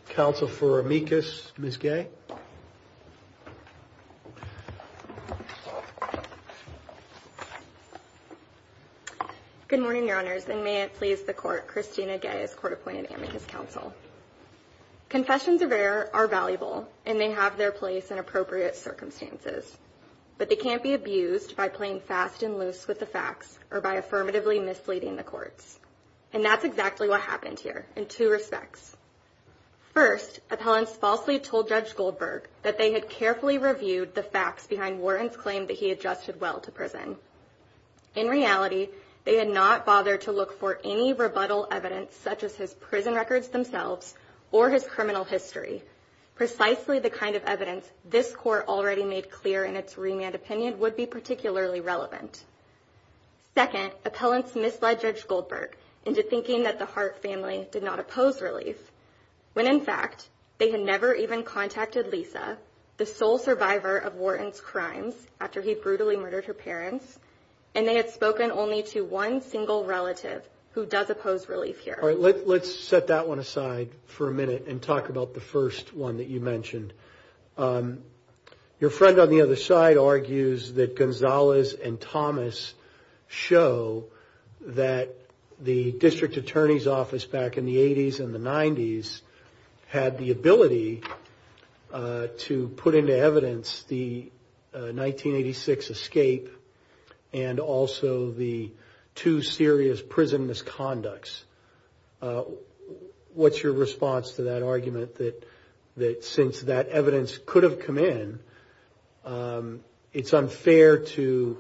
Counsel for Amicus. Ms. Gay? Good morning, Your Honors, and may it please the Court, Christina Gay is court-appointed Amicus Counsel. Confessions of error are valuable, and they have their place in appropriate circumstances. But they can't be abused by playing fast and loose with the facts or by affirmatively misleading the courts. And that's exactly what happened here, in two respects. First, appellants falsely told Judge Goldberg that they were not guilty of the crime, that they had carefully reviewed the facts behind Warren's claim that he had judged well to prison. In reality, they had not bothered to look for any rebuttal evidence, such as his prison records themselves or his criminal history, precisely the kind of evidence this Court already made clear in its remand opinion would be particularly relevant. Second, appellants misled Judge Goldberg into thinking that the Hart family did not oppose release, when, in fact, they had never even contacted Lisa, the sole survivor of Warren's crimes, after he brutally murdered her parents, and they had spoken only to one single relative who does oppose release here. All right, let's set that one aside for a minute and talk about the first one that you mentioned. Your friend on the other side argues that Gonzalez and Thomas show that the district attorney's office back in the 80s and the 90s had the ability to put into evidence the 1986 escape and also the two serious prison misconducts. What's your response to that argument that since that evidence could have come in, it's unfair to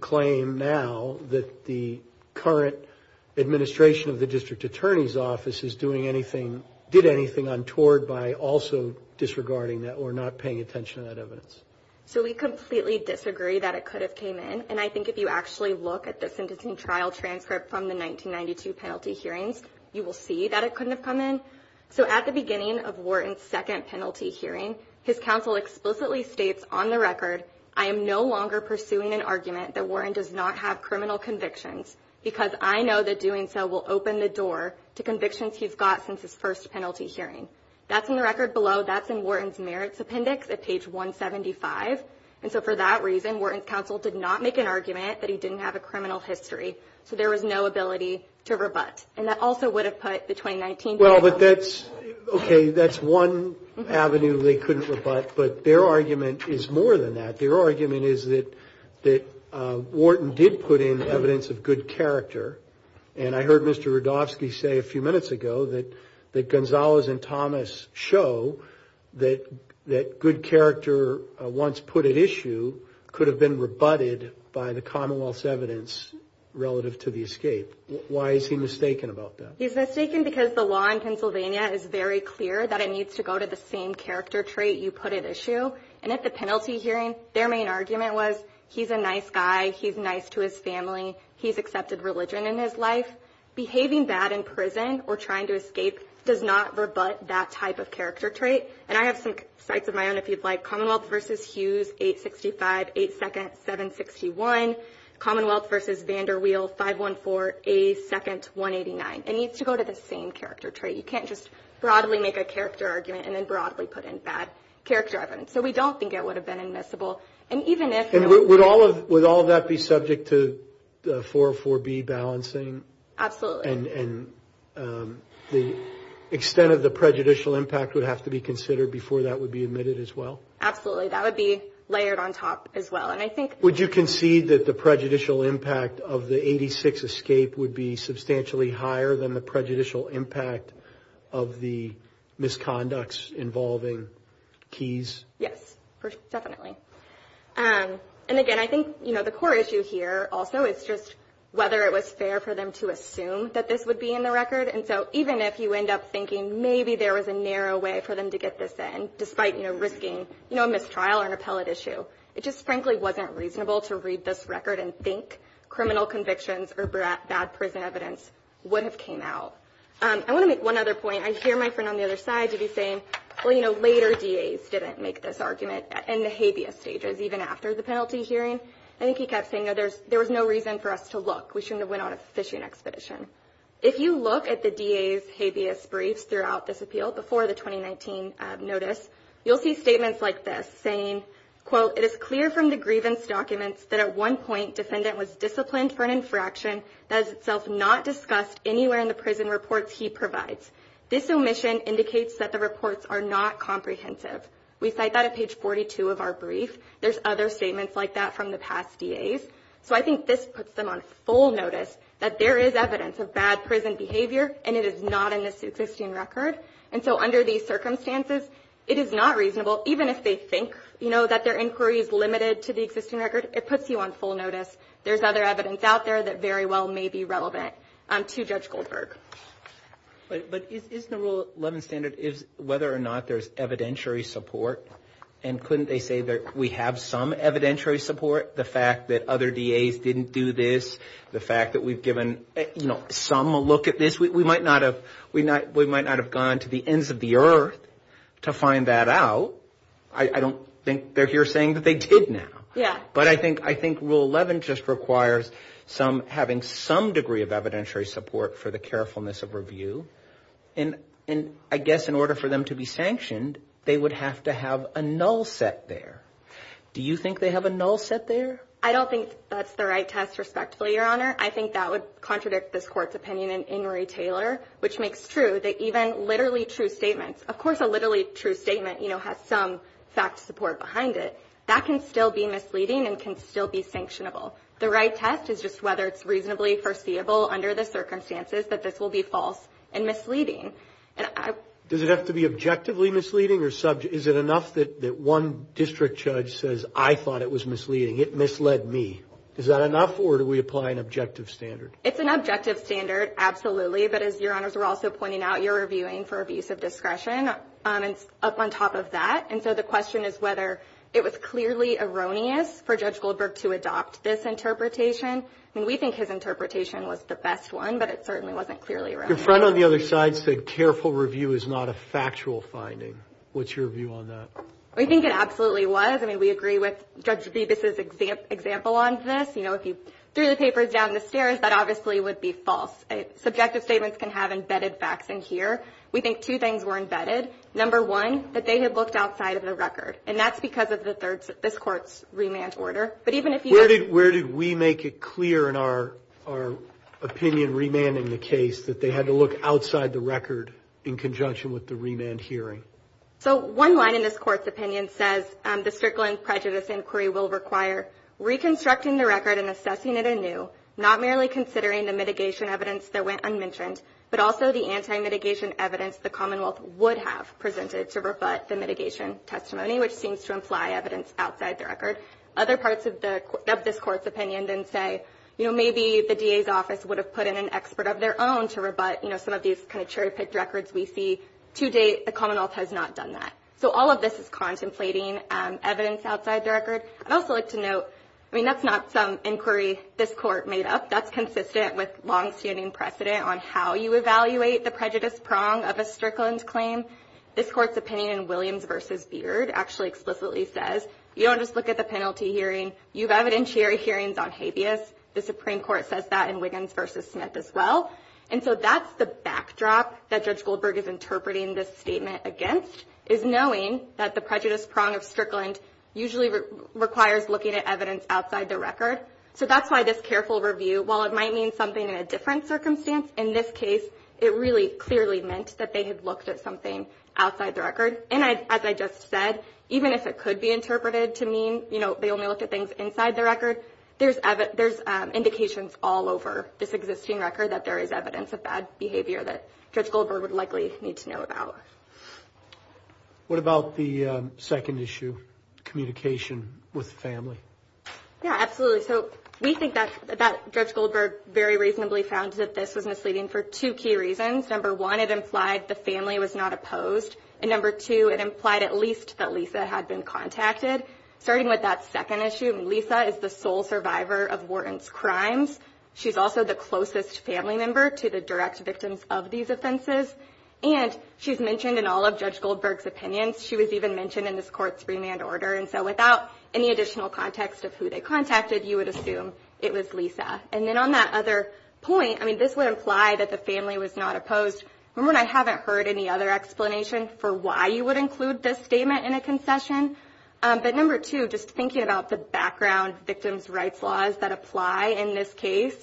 claim now that the current administration of the district attorney's office is doing anything, did anything untoward by also disregarding that or not paying attention to that evidence? So we completely disagree that it could have came in, and I think if you actually look at the sentencing trial transcript from the 1992 penalty hearing, you will see that it couldn't have come in. So at the beginning of Warren's second penalty hearing, his counsel explicitly states on the record, I am no longer pursuing an argument that Warren does not have criminal convictions, because I know that doing so will open the door to convictions he's got since his first penalty hearing. That's in the record below. That's in Warren's merits appendix at page 175. And so for that reason, Warren's counsel did not make an argument that he didn't have a criminal history. So there was no ability to rebut. And that also would have put the 2019 penalty. Well, okay, that's one avenue they couldn't rebut, but their argument is more than that. Their argument is that Warren did put in evidence of good character, and I heard Mr. Rudofsky say a few minutes ago that Gonzalez and Thomas show that good character once put at issue could have been rebutted by the Commonwealth's evidence relative to the escape. Why is he mistaken about that? He's mistaken because the law in Pennsylvania is very clear that it needs to go to the same character trait you put at issue. And at the penalty hearing, their main argument was he's a nice guy, he's nice to his family, he's accepted religion in his life. Behaving bad in prison or trying to escape does not rebut that type of character trait. And I have some sprites of my own if you'd like. Commonwealth v. Hughes, 865, 8 seconds, 761. Commonwealth v. Vander Weald, 514, 8 seconds, 189. It needs to go to the same character trait. You can't just broadly make a character argument and then broadly put in bad character evidence. So we don't think it would have been admissible. And even if – And would all of that be subject to 404B balancing? Absolutely. And the extent of the prejudicial impact would have to be considered before that would be admitted as well? Absolutely. That would be layered on top as well. Would you concede that the prejudicial impact of the 86 escape would be substantially higher than the prejudicial impact of the misconducts involving Keyes? Yes, definitely. And, again, I think the core issue here also is just whether it was fair for them to assume that this would be in the record. And so even if you end up thinking maybe there was a narrow way for them to get this in despite risking a mistrial or an appellate issue, it just frankly wasn't reasonable to read this record and think criminal convictions or bad prison evidence would have came out. I want to make one other point. I hear my friend on the other side maybe saying, well, you know, later DAs didn't make this argument in the habeas stages, even after the penalty hearing. I think he kept saying, no, there was no reason for us to look. We shouldn't have went on a petition expedition. If you look at the DA's habeas brief throughout this appeal before the 2019 notice, you'll see statements like this saying, quote, it is clear from the grievance documents that at one point defendant was disciplined for an insurrection that is itself not discussed anywhere in the prison reports he provides. This omission indicates that the reports are not comprehensive. We cite that at page 42 of our brief. There's other statements like that from the past DAs. So I think this puts them on full notice that there is evidence of bad prison behavior, and it is not in the Sue Christine record. And so under these circumstances, it is not reasonable, even if they think, you know, that their inquiry is limited to the existing record. It puts you on full notice. There's other evidence out there that very well may be relevant to Judge Goldberg. But is the Rule 11 standard is whether or not there's evidentiary support, and couldn't they say that we have some evidentiary support? The fact that other DAs didn't do this, the fact that we've given, you know, some a look at this. We might not have gone to the ends of the earth to find that out. I don't think they're here saying that they did now. But I think Rule 11 just requires having some degree of evidentiary support for the carefulness of review. And I guess in order for them to be sanctioned, they would have to have a null set there. Do you think they have a null set there? I don't think that's the right test, respectfully, Your Honor. I think that would contradict this Court's opinion in Murray-Taylor, which makes true that even literally true statements, of course a literally true statement, you know, has some fact support behind it. That can still be misleading and can still be sanctionable. The right test is just whether it's reasonably foreseeable under the circumstances that this will be false and misleading. Does it have to be objectively misleading? Is it enough that one district judge says, I thought it was misleading, it misled me? Is that enough or do we apply an objective standard? It's an objective standard, absolutely. But as Your Honors were also pointing out, you're reviewing for abuse of discretion up on top of that. And so the question is whether it was clearly erroneous for Judge Goldberg to adopt this interpretation. I mean, we think his interpretation was the best one, but it certainly wasn't clearly erroneous. Your friend on the other side said careful review is not a factual finding. What's your view on that? We think it absolutely was. I mean, we agree with Judge Zubik's example on this. You know, if you threw the papers down the stairs, that obviously would be false. Subjective statements can have embedded facts in here. We think two things were embedded. Number one, that they had looked outside of the record, and that's because of this court's remand order. Where did we make it clear in our opinion remanding the case that they had to look outside the record in conjunction with the remand hearing? So one line in this court's opinion says, the Strickland prejudice inquiry will require reconstructing the record and assessing it anew, not merely considering the mitigation evidence that went unmentioned, but also the anti-mitigation evidence the Commonwealth would have presented to rebut the mitigation testimony, which seems to imply evidence outside the record. Other parts of this court's opinion then say, you know, maybe the DA's office would have put in an expert of their own to rebut, you know, we see to date the Commonwealth has not done that. So all of this is contemplating evidence outside the record. I'd also like to note, I mean, that's not some inquiry this court made up. That's consistent with longstanding precedent on how you evaluate the prejudice prong of a Strickland claim. This court's opinion in Williams v. Beard actually explicitly says, you don't just look at the penalty hearing. You've evidentiary hearings on habeas. The Supreme Court says that in Wiggins v. Smith as well. And so that's the backdrop that Judge Goldberg is interpreting this statement against, is knowing that the prejudice prong of Strickland usually requires looking at evidence outside the record. So that's why this careful review, while it might mean something in a different circumstance, in this case it really clearly meant that they had looked at something outside the record. And as I just said, even if it could be interpreted to mean, you know, they only looked at things inside the record, there's indications all over this existing record that there is evidence of bad behavior that Judge Goldberg would likely need to know about. What about the second issue, communication with the family? Yeah, absolutely. So we think that Judge Goldberg very reasonably found that this was misleading for two key reasons. Number one, it implied the family was not opposed. And number two, it implied at least that Lisa had been contacted. Starting with that second issue, Lisa is the sole survivor of Warden's crimes. She's also the closest family member to the direct victims of these offenses. And she's mentioned in all of Judge Goldberg's opinions. She was even mentioned in this court's remand order. And so without any additional context of who they contacted, you would assume it was Lisa. And then on that other point, I mean, this would imply that the family was not opposed. Number one, I haven't heard any other explanation for why you would include this statement in a concession. But number two, just thinking about the background victims' rights laws that apply in this case,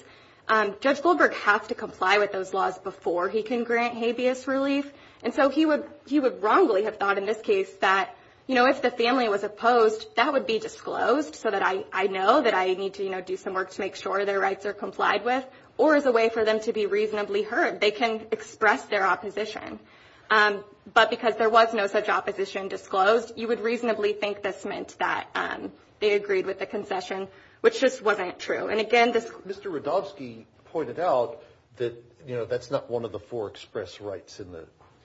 Judge Goldberg has to comply with those laws before he can grant habeas relief. And so he would wrongly have thought in this case that, you know, if the family was opposed, that would be disclosed so that I know that I need to, you know, do some work to make sure their rights are complied with or as a way for them to be reasonably heard. They can express their opposition. But because there was no such opposition disclosed, you would reasonably think this meant that they agreed with the concession, which just wasn't true. And, again, this – Mr. Rodofsky pointed out that, you know, that's not one of the four express rights in the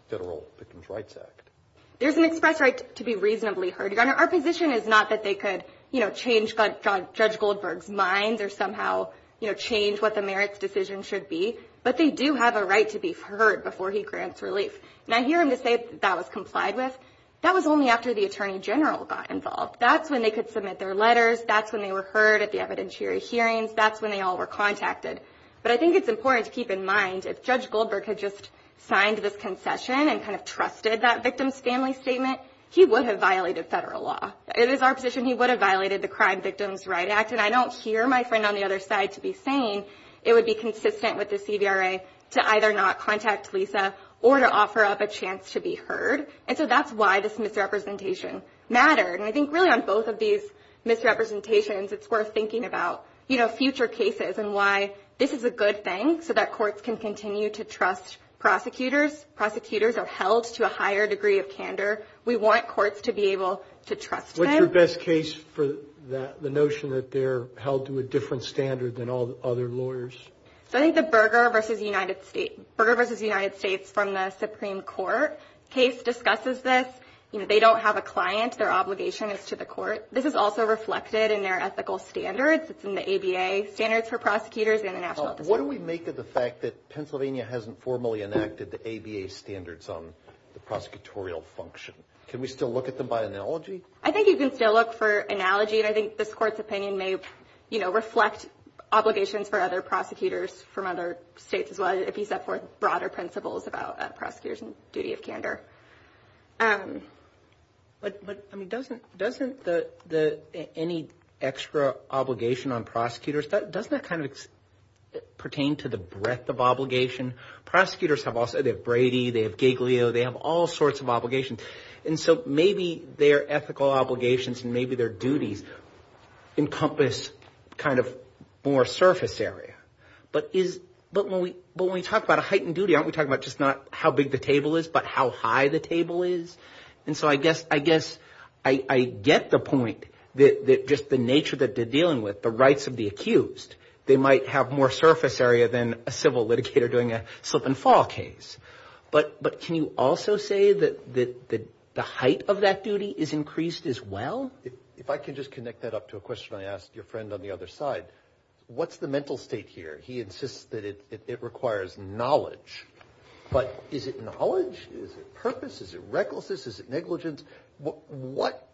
Federal Victims' Rights Act. There's an express right to be reasonably heard. Our position is not that they could, you know, change Judge Goldberg's mind or somehow, you know, change what the merits decision should be. But they do have a right to be heard before he grants relief. Now, here in this case, that was complied with. That was only after the Attorney General got involved. That's when they could submit their letters. That's when they were heard at the evidentiary hearings. That's when they all were contacted. But I think it's important to keep in mind if Judge Goldberg had just signed this concession and kind of trusted that victim's family statement, he would have violated federal law. It is our position he would have violated the Crime Victims' Rights Act. And I don't hear my friend on the other side to be saying it would be consistent with the CVRA to either not contact Lisa or to offer up a chance to be heard. And so that's why this misrepresentation mattered. And I think really on both of these misrepresentations, it's worth thinking about, you know, future cases and why this is a good thing so that courts can continue to trust prosecutors. Prosecutors are held to a higher degree of candor. We want courts to be able to trust them. What's your best case for the notion that they're held to a different standard than all the other lawyers? I think the Berger v. United States from the Supreme Court case discusses this. You know, they don't have a client. Their obligation is to the court. This is also reflected in their ethical standards. It's in the ABA Standards for Prosecutors International. What do we make of the fact that Pennsylvania hasn't formally enacted the ABA Standards on the prosecutorial function? Can we still look at them by analogy? I think you can still look for analogy, and I think this court's opinion may, you know, reflect obligations for other prosecutors from other states as well, if you set forth broader principles about prosecutors and duty of candor. But doesn't any extra obligation on prosecutors, doesn't that kind of pertain to the breadth of obligation? Prosecutors have Brady, they have Giglio, they have all sorts of obligations. And so maybe their ethical obligations and maybe their duties encompass kind of more surface area. But when we talk about a heightened duty, aren't we talking about just not how big the table is but how high the table is? And so I guess I get the point that just the nature that they're dealing with, the rights of the accused, they might have more surface area than a civil litigator doing a slip and fall case. But can you also say that the height of that duty is increased as well? If I can just connect that up to a question I asked your friend on the other side, what's the mental state here? He insists that it requires knowledge. But is it knowledge, is it purpose, is it recklessness, is it negligence?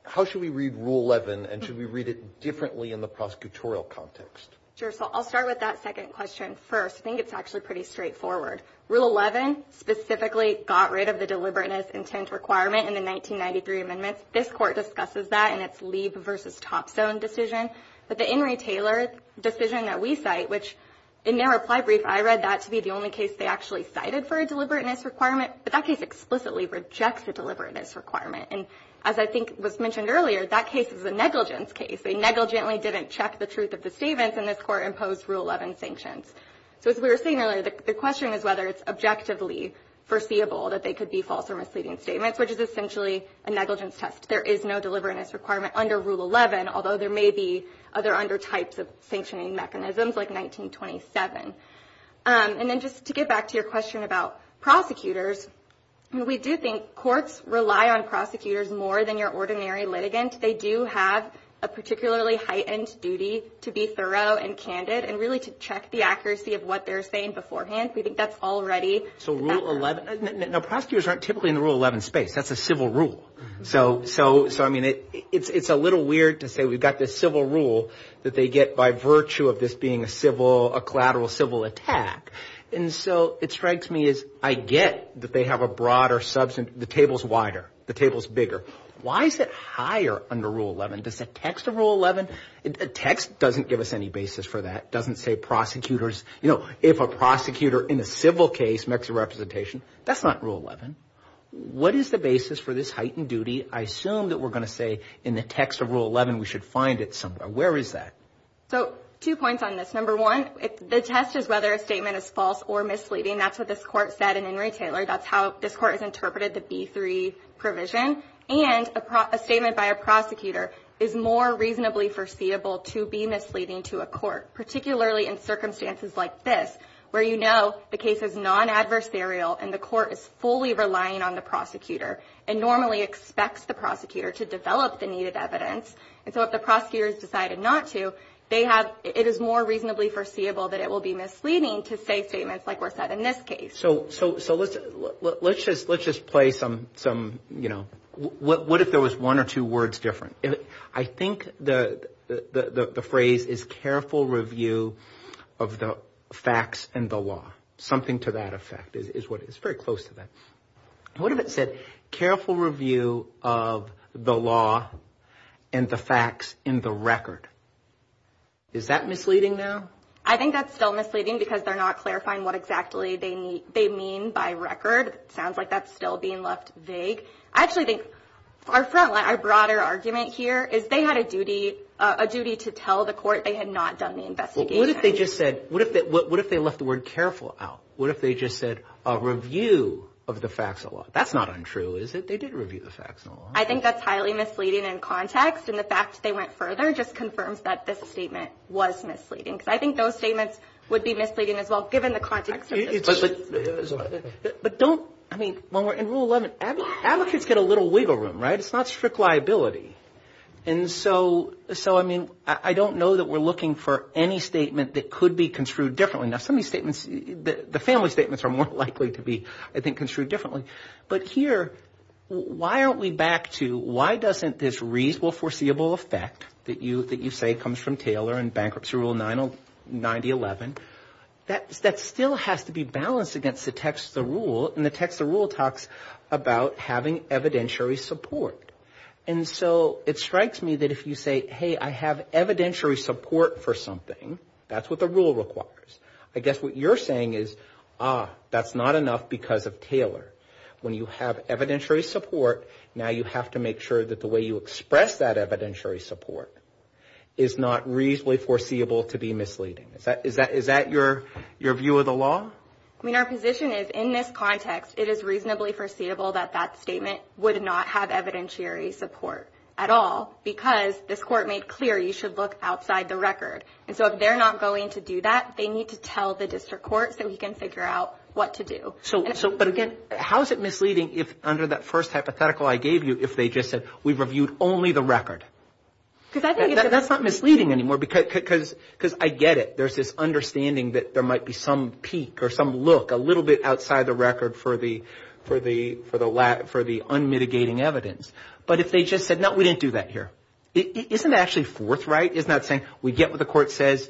How should we read Rule 11 and should we read it differently in the prosecutorial context? Sure, so I'll start with that second question first. I think it's actually pretty straightforward. Rule 11 specifically got rid of the deliberateness intent requirement in the 1993 amendment. This court discusses that in its leave versus top zone decision. But the In Re Taylor decision that we cite, which in their reply brief I read that to be the only case they actually cited for a deliberateness requirement, but that case explicitly rejects a deliberateness requirement. And as I think was mentioned earlier, that case is a negligence case. They negligently didn't check the truth of the statements, and this court imposed Rule 11 sanctions. So as we were saying earlier, the question is whether it's objectively foreseeable that they could be false or misleading statements, which is essentially a negligence test. There is no deliberateness requirement under Rule 11, although there may be other undertypes of sanctioning mechanisms like 1927. And then just to get back to your question about prosecutors, we do think courts rely on prosecutors more than your ordinary litigants. They do have a particularly heightened duty to be thorough and candid and really to check the accuracy of what they're saying beforehand. We think that's already – So Rule 11 – no, prosecutors aren't typically in the Rule 11 space. That's a civil rule. So, I mean, it's a little weird to say we've got this civil rule that they get by virtue of this being a collateral civil attack. And so it strikes me as I get that they have a broader substance. The table's wider. The table's bigger. Why is it higher under Rule 11? Does the text of Rule 11 – the text doesn't give us any basis for that. It doesn't say prosecutors – you know, if a prosecutor in a civil case makes a representation, that's not Rule 11. What is the basis for this heightened duty? I assume that we're going to say in the text of Rule 11 we should find it somewhere. Where is that? So two points on this. Number one, the test is whether a statement is false or misleading. That's what this court said in Henry Taylor. That's how this court has interpreted the B3 provision. And a statement by a prosecutor is more reasonably foreseeable to be misleading to a court, particularly in circumstances like this, where you know the case is non-adversarial and the court is fully relying on the prosecutor and normally expects the prosecutor to develop the needed evidence. And so if the prosecutor has decided not to, it is more reasonably foreseeable that it will be misleading to say statements like were said in this case. So let's just play some – what if there was one or two words different? I think the phrase is careful review of the facts and the law, something to that effect. It's very close to that. What if it said careful review of the law and the facts and the record? Is that misleading now? I think that's still misleading because they're not clarifying what exactly they mean by record. It sounds like that's still being left vague. I actually think our broader argument here is they had a duty to tell the court they had not done the investigation. What if they just said – what if they left the word careful out? What if they just said a review of the facts and the law? That's not untrue, is it? They did review the facts and the law. I think that's highly misleading in context and the fact that they went further just confirms that this statement was misleading because I think those statements would be misleading as well given the context of the case. In Rule 11, advocates get a little wiggle room. It's not strict liability. I don't know that we're looking for any statement that could be construed differently. The family statements are more likely to be, I think, construed differently. But here, why aren't we back to why doesn't this reasonable foreseeable effect that you say comes from Taylor and Bankruptcy Rule 9011, that still has to be balanced against the text of the rule and the text of the rule talks about having evidentiary support. And so it strikes me that if you say, hey, I have evidentiary support for something, that's what the rule requires. I guess what you're saying is, ah, that's not enough because of Taylor. When you have evidentiary support, now you have to make sure that the way you express that evidentiary support is not reasonably foreseeable to be misleading. Is that your view of the law? I mean, our position is in this context, it is reasonably foreseeable that that statement would not have evidentiary support at all because this court made clear you should look outside the record. And so if they're not going to do that, they need to tell the district court so we can figure out what to do. But again, how is it misleading if under that first hypothetical I gave you, if they just said, we've reviewed only the record? That's not misleading anymore because I get it. There's this understanding that there might be some peak or some look a little bit outside the record for the unmitigating evidence. But if they just said, no, we didn't do that here, isn't that actually forthright? Isn't that saying, we get what the court says,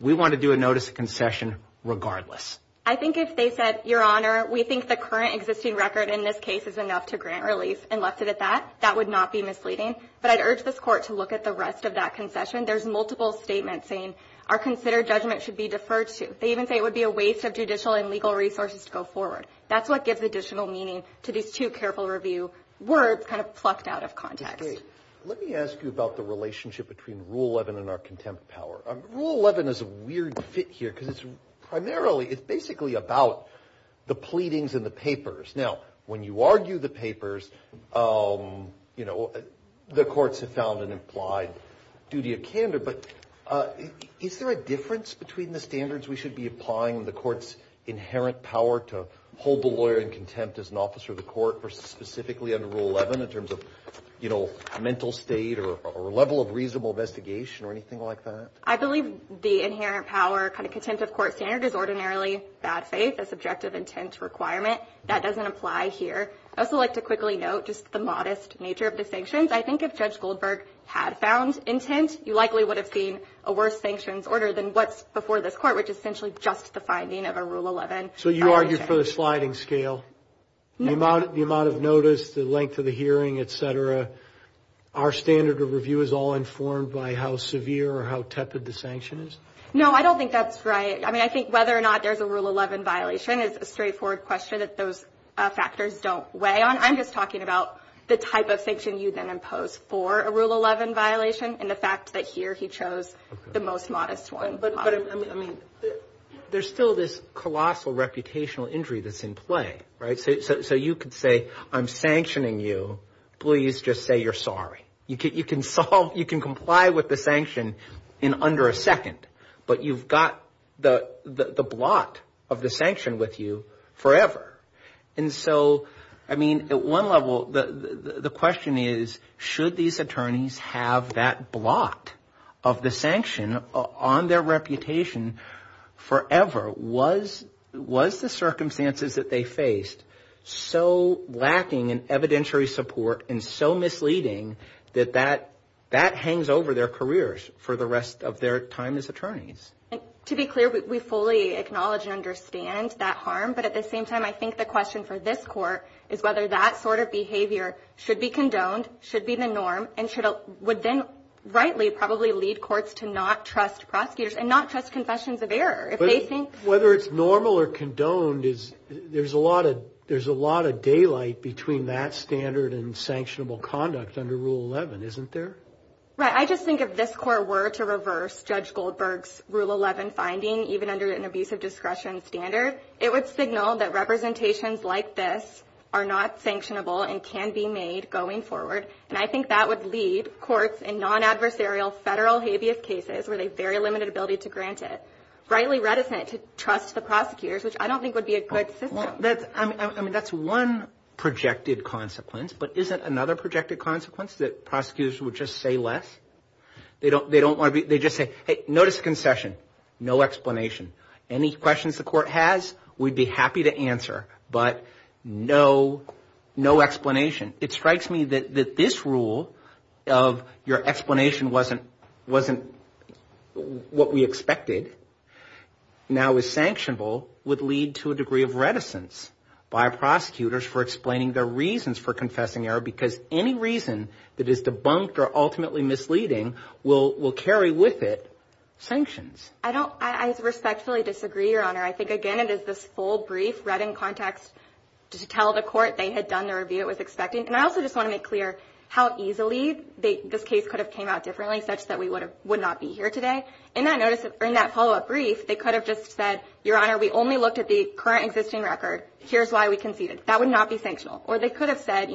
we want to do a notice of concession regardless? I think if they said, Your Honor, we think the current existing record in this case is enough to grant release, and left it at that, that would not be misleading. But I'd urge this court to look at the rest of that concession. There's multiple statements saying our considered judgment should be deferred to. They even say it would be a waste of judicial and legal resources to go forward. That's what gives additional meaning to these two careful review words kind of plucked out of context. Let me ask you about the relationship between Rule 11 and our contempt power. Rule 11 is a weird fit here because it's basically about the pleadings and the papers. Now, when you argue the papers, the courts have found an implied duty of candor. But is there a difference between the standards we should be applying and the court's inherent power to hold the lawyer in contempt as an officer of the court or specifically under Rule 11 in terms of mental state or level of reasonable investigation or anything like that? I believe the inherent power kind of contempt of court standard is ordinarily bad faith, a subjective intent requirement. That doesn't apply here. I'd also like to quickly note just the modest nature of the sanctions. I think if Judge Goldberg had found intent, he likely would have seen a worse sanctions order than what's before this court, which is essentially just the finding of a Rule 11. So you argue for the sliding scale, the amount of notice, the length of the hearing, et cetera. Our standard of review is all informed by how severe or how tempted the sanction is? No, I don't think that's right. I mean, I think whether or not there's a Rule 11 violation is a straightforward question if those factors don't weigh on it. I'm just talking about the type of sanction you then impose for a Rule 11 violation and the fact that here he chose the most modest one. But I mean, there's still this colossal reputational injury that's in play, right? So you could say, I'm sanctioning you. Please just say you're sorry. You can comply with the sanction in under a second, but you've got the blot of the sanction with you forever. And so, I mean, at one level, the question is, should these attorneys have that blot of the sanction on their reputation forever? Was the circumstances that they faced so lacking in evidentiary support and so misleading that that hangs over their careers for the rest of their time as attorneys? To be clear, we fully acknowledge and understand that harm. But at the same time, I think the question for this court is whether that sort of behavior should be condoned, should be the norm, and would then rightly probably lead courts to not trust prosecutors and not trust confessions of error if they think – Whether it's normal or condoned, there's a lot of daylight between that standard and sanctionable conduct under Rule 11, isn't there? Right. I just think if this court were to reverse Judge Goldberg's Rule 11 finding, even under an abusive discretion standard, it would signal that representations like this are not sanctionable and can be made going forward. And I think that would lead courts in non-adversarial federal habeas cases with a very limited ability to grant it, rightly reticent to trust the prosecutors, which I don't think would be a good system. I mean, that's one projected consequence. But isn't another projected consequence that prosecutors would just say less? They just say, hey, notice concession, no explanation. Any questions the court has, we'd be happy to answer, but no explanation. It strikes me that this rule of your explanation wasn't what we expected, now is sanctionable, would lead to a degree of reticence by prosecutors for explaining their reasons for confessing error because any reason that is debunked or ultimately misleading will carry with it sanctions. I respectfully disagree, Your Honor. I think, again, it is this full brief read in context to tell the court they had done the review it was expecting. And I also just want to make clear how easily this case could have came out differently, such that we would not be here today. In that follow-up brief, they could have just said, Your Honor, we only looked at the current existing record. Here's why we conceded. That would not be sanctional. Or they could have said,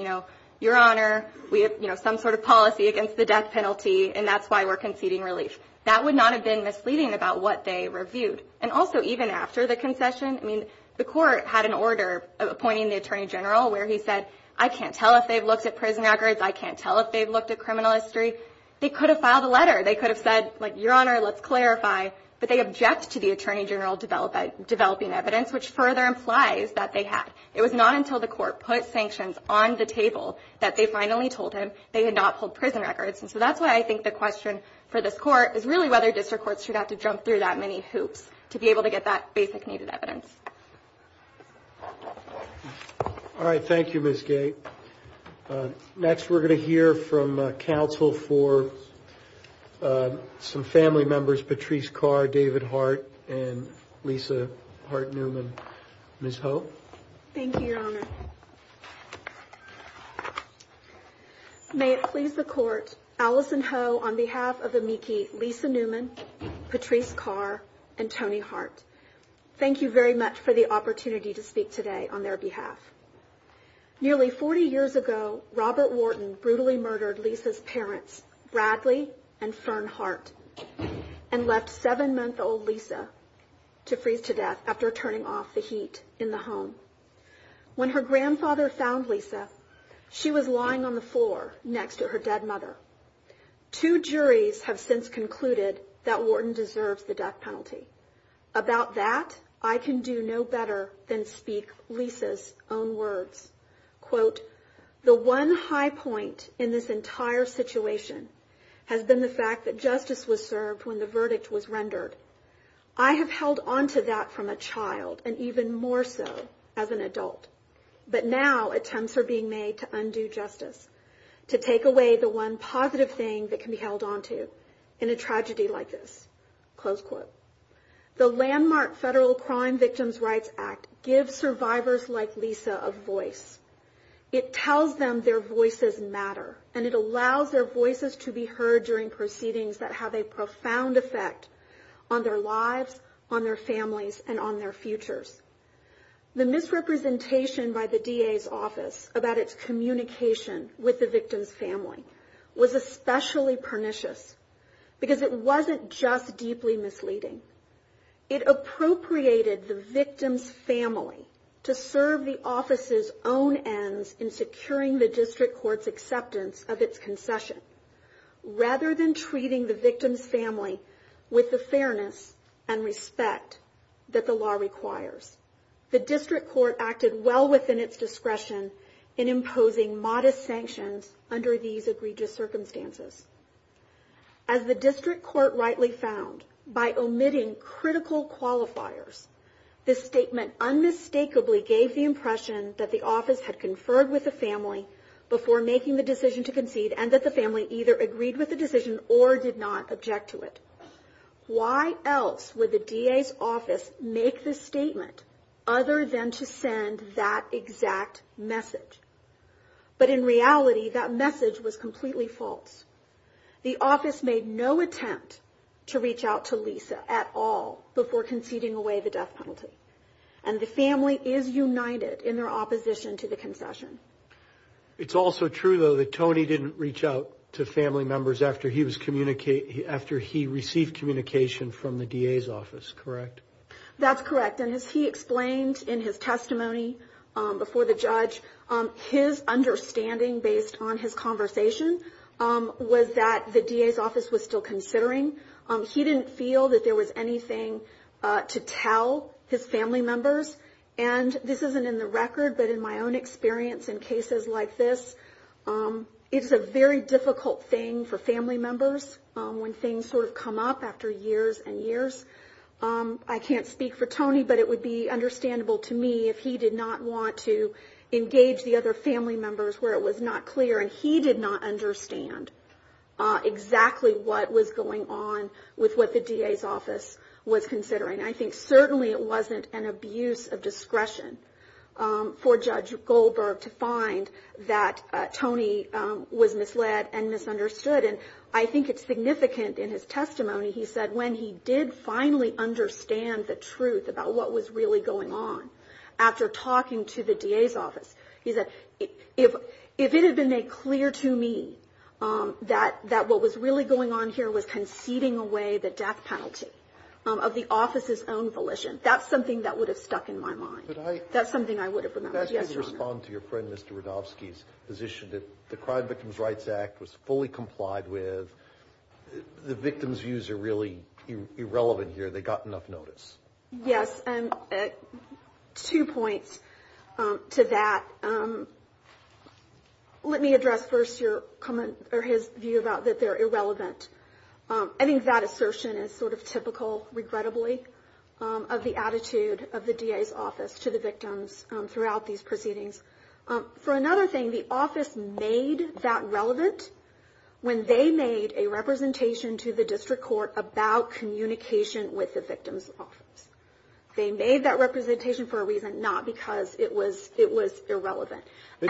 Your Honor, we have some sort of policy against the death penalty, and that's why we're conceding relief. That would not have been misleading about what they reviewed. And also, even after the concession, the court had an order appointing the Attorney General where he said, I can't tell if they've looked at prison records. I can't tell if they've looked at criminal history. They could have filed a letter. They could have said, Your Honor, let's clarify. But they object to the Attorney General developing evidence, which further implies that they have. It was not until the court put sanctions on the table that they finally told him they had not pulled prison records. And so that's why I think the question for this court is really whether district courts should have to jump through that many hoops to be able to get that basic needed evidence. All right. Thank you, Ms. Gate. Next, we're going to hear from counsel for some family members, Patrice Carr, David Hart, and Lisa Hart-Newman. Ms. Ho? Thank you, Your Honor. May it please the Court, Alison Ho on behalf of the MEKI, Lisa Newman, Patrice Carr, and Tony Hart, thank you very much for the opportunity to speak today on their behalf. Nearly 40 years ago, Robert Wharton brutally murdered Lisa's parents, Bradley and Fern Hart, and left seven-month-old Lisa to freeze to death after turning off the heat in the home. When her grandfather found Lisa, she was lying on the floor next to her dead mother. Two juries have since concluded that Wharton deserves the death penalty. About that, I can do no better than speak Lisa's own words. Quote, the one high point in this entire situation has been the fact that justice was served when the verdict was rendered. I have held onto that from a child, and even more so as an adult. But now attempts are being made to undo justice, to take away the one positive thing that can be held onto in a tragedy like this. Close quote. The landmark Federal Crime Victims' Rights Act gives survivors like Lisa a voice. It tells them their voices matter, and it allows their voices to be heard during proceedings that have a profound effect on their lives, on their families, and on their futures. The misrepresentation by the DA's office about its communication with the victim's family was especially pernicious, because it wasn't just deeply misleading. It appropriated the victim's family to serve the office's own ends in securing the district court's acceptance of its concession, rather than treating the victim's family with the fairness and respect that the law requires. The district court acted well within its discretion in imposing modest sanctions under these egregious circumstances. As the district court rightly found, by omitting critical qualifiers, this statement unmistakably gave the impression that the office had conferred with the family before making the decision to concede, and that the family either agreed with the decision or did not object to it. Why else would the DA's office make this statement other than to send that exact message? But in reality, that message was completely false. The office made no attempt to reach out to Lisa at all before conceding away the death penalty, and the family is united in their opposition to the concession. It's also true, though, that Tony didn't reach out to family members after he received communication from the DA's office, correct? That's correct. And as he explained in his testimony before the judge, his understanding based on his conversation was that the DA's office was still considering. He didn't feel that there was anything to tell his family members. And this isn't in the record, but in my own experience in cases like this, it's a very difficult thing for family members when things sort of come up after years and years. I can't speak for Tony, but it would be understandable to me if he did not want to engage the other family members where it was not clear, and he did not understand exactly what was going on with what the DA's office was considering. I think certainly it wasn't an abuse of discretion for Judge Goldberg to find that Tony was misled and misunderstood, and I think it's significant in his testimony. He said when he did finally understand the truth about what was really going on, after talking to the DA's office, he said, if it had been made clear to me that what was really going on here was conceding away the death penalty of the office's own volition, that's something that would have stuck in my mind. That's something I would have remembered. Can I ask you to respond to your friend Mr. Rodofsky's position that the Crime Victims' Rights Act was fully complied with, the victims' views are really irrelevant here, they got enough notice? Yes, and two points to that. Let me address first his view about that they're irrelevant. I think that assertion is sort of typical, regrettably, of the attitude of the DA's office to the victims throughout these proceedings. For another thing, the office made that relevant when they made a representation to the district court about communication with the victims' office. They made that representation for a reason, not because it was irrelevant. It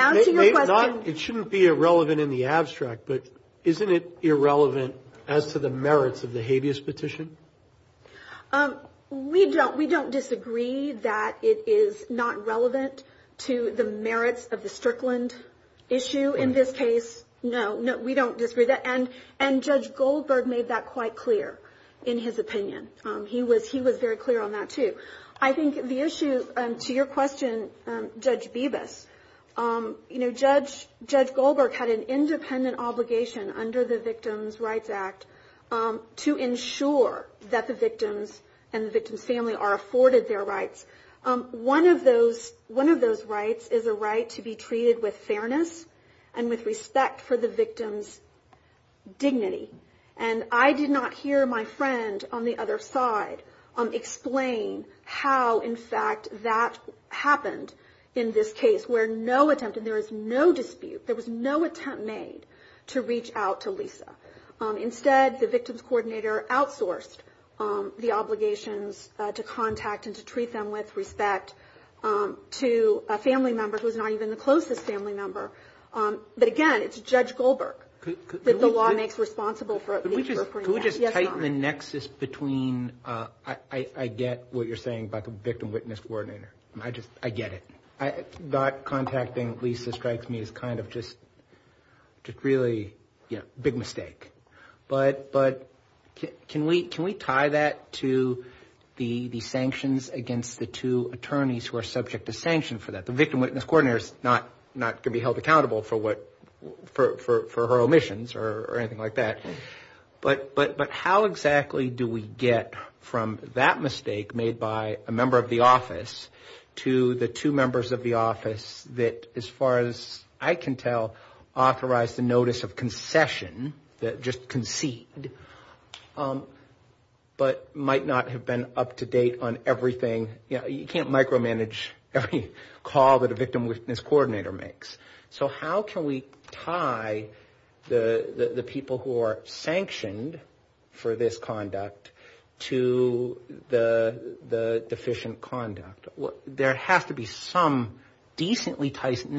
shouldn't be irrelevant in the abstract, but isn't it irrelevant as to the merits of the habeas petition? We don't disagree that it is not relevant to the merits of the Strickland issue in this case. No, we don't disagree. And Judge Goldberg made that quite clear in his opinion. He was very clear on that too. I think the issue to your question, Judge Bibas, Judge Goldberg had an independent obligation under the Victims' Rights Act to ensure that the victims and the victim's family are afforded their rights. One of those rights is a right to be treated with fairness and with respect for the victim's dignity. And I did not hear my friend on the other side explain how, in fact, that happened in this case, where no attempt, and there is no dispute, there was no attempt made to reach out to Lisa. Instead, the victims' coordinator outsourced the obligations to contact and to treat them with respect to a family member who is not even the closest family member. But again, it's Judge Goldberg that the law makes responsible for it. Could we just tighten the nexus between, I get what you're saying about the victim-witness coordinator. I get it. Not contacting Lisa Strikes Me is kind of just really a big mistake. But can we tie that to the sanctions against the two attorneys who are subject to sanction for that? The victim-witness coordinator is not going to be held accountable for her omissions or anything like that. But how exactly do we get from that mistake made by a member of the office to the two members of the office that, as far as I can tell, authorized the notice of concession, that just conceded, but might not have been up to date on everything? You can't micromanage every call that a victim-witness coordinator makes. So how can we tie the people who are sanctioned for this conduct to the deficient conduct? There has to be some decently tight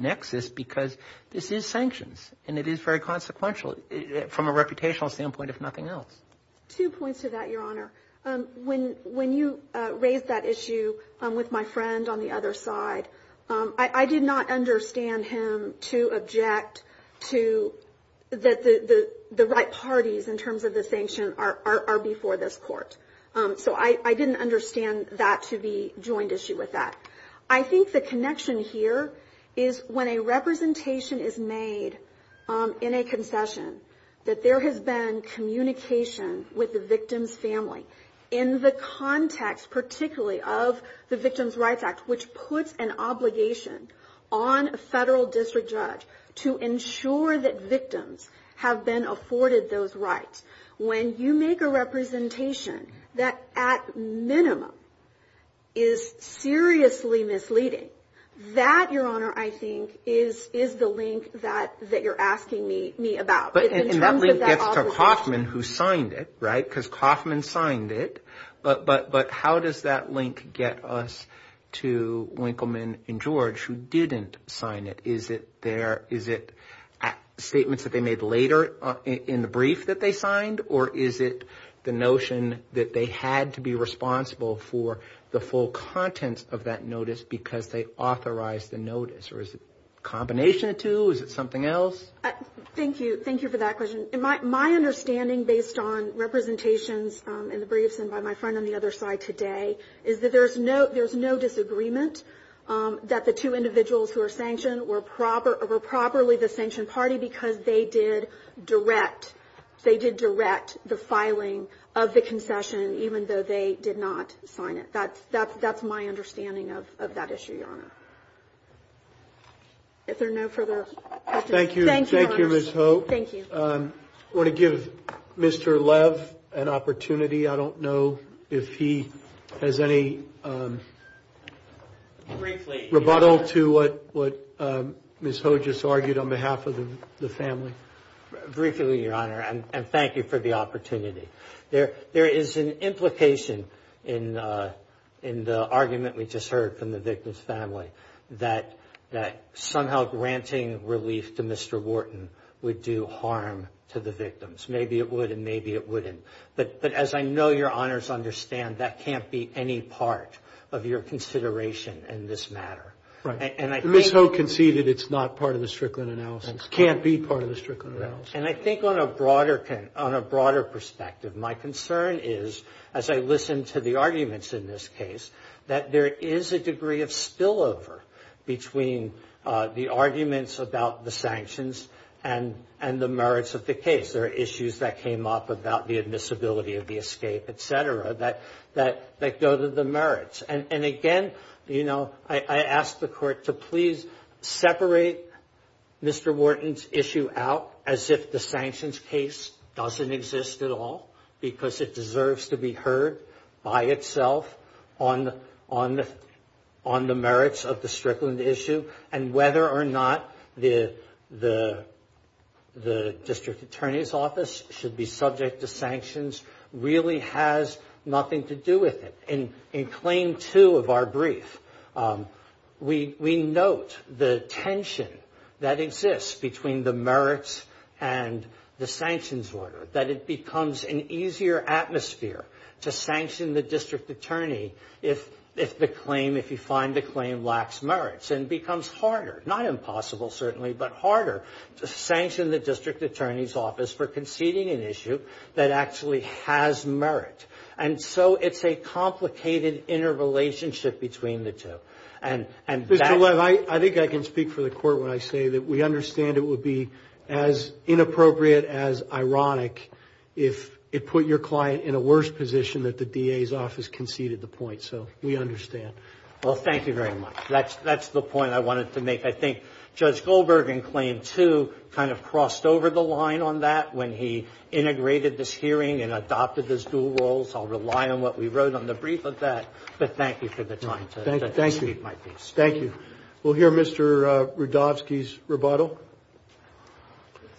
nexus because this is sanctions, and it is very consequential from a reputational standpoint, if nothing else. Two points to that, Your Honor. When you raised that issue with my friend on the other side, I did not understand him to object to the right parties in terms of the sanctions are before this court. So I didn't understand that to be a joint issue with that. I think the connection here is when a representation is made in a concession, that there has been communication with the victim's family in the context particularly of the Victims' Rights Act, which puts an obligation on a federal district judge to ensure that victims have been afforded those rights. When you make a representation that, at minimum, is seriously misleading, that, Your Honor, I think, is the link that you're asking me about. At least that's for Kauffman, who signed it, right? Because Kauffman signed it. But how does that link get us to Winkleman and George, who didn't sign it? Is it statements that they made later in the brief that they signed, or is it the notion that they had to be responsible for the full content of that notice because they authorized the notice? Or is it a combination of the two? Is it something else? Thank you. Thank you for that question. My understanding, based on representations in the briefs and by my friend on the other side today, is that there's no disagreement that the two individuals who are sanctioned were properly the sanctioned party simply because they did direct the filing of the concession, even though they did not sign it. That's my understanding of that issue, Your Honor. Is there no further questions? Thank you. Thank you, Ms. Hoag. Thank you. I want to give Mr. Lev an opportunity. I don't know if he has any rebuttal to what Ms. Hoag just argued on behalf of the family. Briefly, Your Honor, and thank you for the opportunity. There is an implication in the argument we just heard from the victim's family that somehow granting relief to Mr. Wharton would do harm to the victims. But as I know Your Honors understand, that can't be any part of your consideration in this matter. Ms. Hoag conceded it's not part of the Strickland analysis. It can't be part of the Strickland analysis. And I think on a broader perspective, my concern is, as I listen to the arguments in this case, that there is a degree of spillover between the arguments about the sanctions and the merits of the case. Because there are issues that came up about the admissibility of the escape, et cetera, that go to the merits. And again, you know, I ask the Court to please separate Mr. Wharton's issue out as if the sanctions case doesn't exist at all, because it deserves to be heard by itself on the merits of the Strickland issue, and whether or not the district attorney's office should be subject to sanctions really has nothing to do with it. In Claim 2 of our brief, we note the tension that exists between the merits and the sanctions order, that it becomes an easier atmosphere to sanction the district attorney if the claim, if you find the claim lacks merits. And it becomes harder, not impossible, certainly, but harder to sanction the district attorney's office for conceding an issue that actually has merit. And so it's a complicated interrelationship between the two. Mr. Webb, I think I can speak for the Court when I say that we understand it would be as inappropriate, as ironic, if it put your client in a worse position that the DA's office conceded the point. So we understand. Well, thank you very much. That's the point I wanted to make. I think Judge Goldberg in Claim 2 kind of crossed over the line on that when he integrated this hearing and adopted those dual roles. I'll rely on what we wrote on the brief of that, but thank you for the time. Thank you. Thank you. We'll hear Mr. Rudovsky's rebuttal.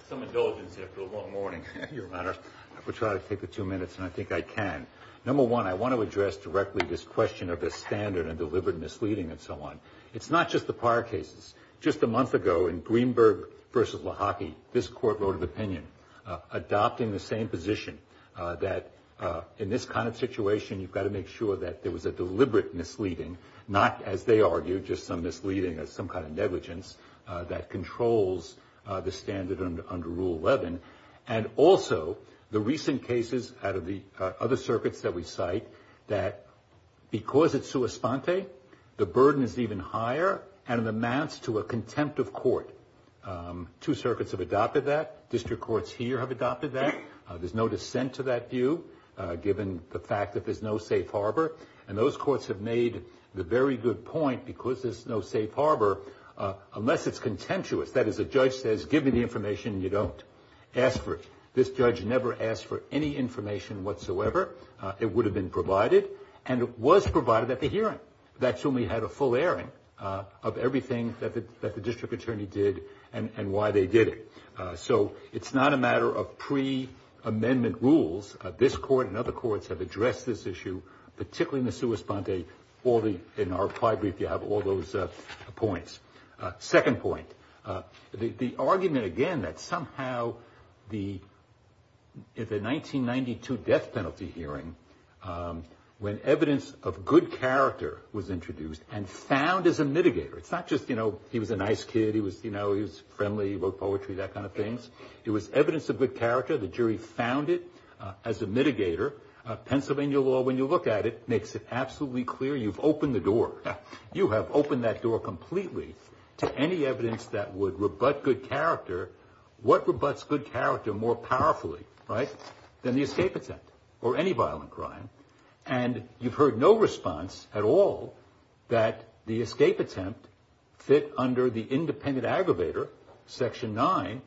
Some indulgence here for a long morning, Your Honor. I will try to take the two minutes, and I think I can. Number one, I want to address directly this question of the standard and deliberate misleading and so on. It's not just the prior cases. Just a month ago in Greenberg v. Lahaki, this Court wrote an opinion adopting the same position, that in this kind of situation, you've got to make sure that there was a deliberate misleading, not, as they argued, just a misleading of some kind of negligence that controls the standard under Rule 11. And also, the recent cases out of the other circuits that we cite, that because it's sua sponte, the burden is even higher, and it amounts to a contempt of court. Two circuits have adopted that. District courts here have adopted that. There's no dissent to that view, given the fact that there's no safe harbor. And those courts have made the very good point, because there's no safe harbor, unless it's contemptuous. That is, the judge says, give me the information and you don't. Ask for it. This judge never asked for any information whatsoever. It would have been provided, and it was provided at the hearing. That's when we had a full airing of everything that the district attorney did and why they did it. So it's not a matter of pre-amendment rules. This Court and other courts have addressed this issue, particularly in the sua sponte. In our prior brief, you have all those points. Second point. The argument, again, that somehow the 1992 death penalty hearing, when evidence of good character was introduced and found as a mitigator, it's not just, you know, he was a nice kid, he was friendly, wrote poetry, that kind of thing. It was evidence of good character. The jury found it as a mitigator. Pennsylvania law, when you look at it, makes it absolutely clear you've opened the door. You have opened that door completely to any evidence that would rebut good character. What rebuts good character more powerfully, right, than the escape attempt or any violent crime? And you've heard no response at all that the escape attempt fit under the independent aggravator, Section 9,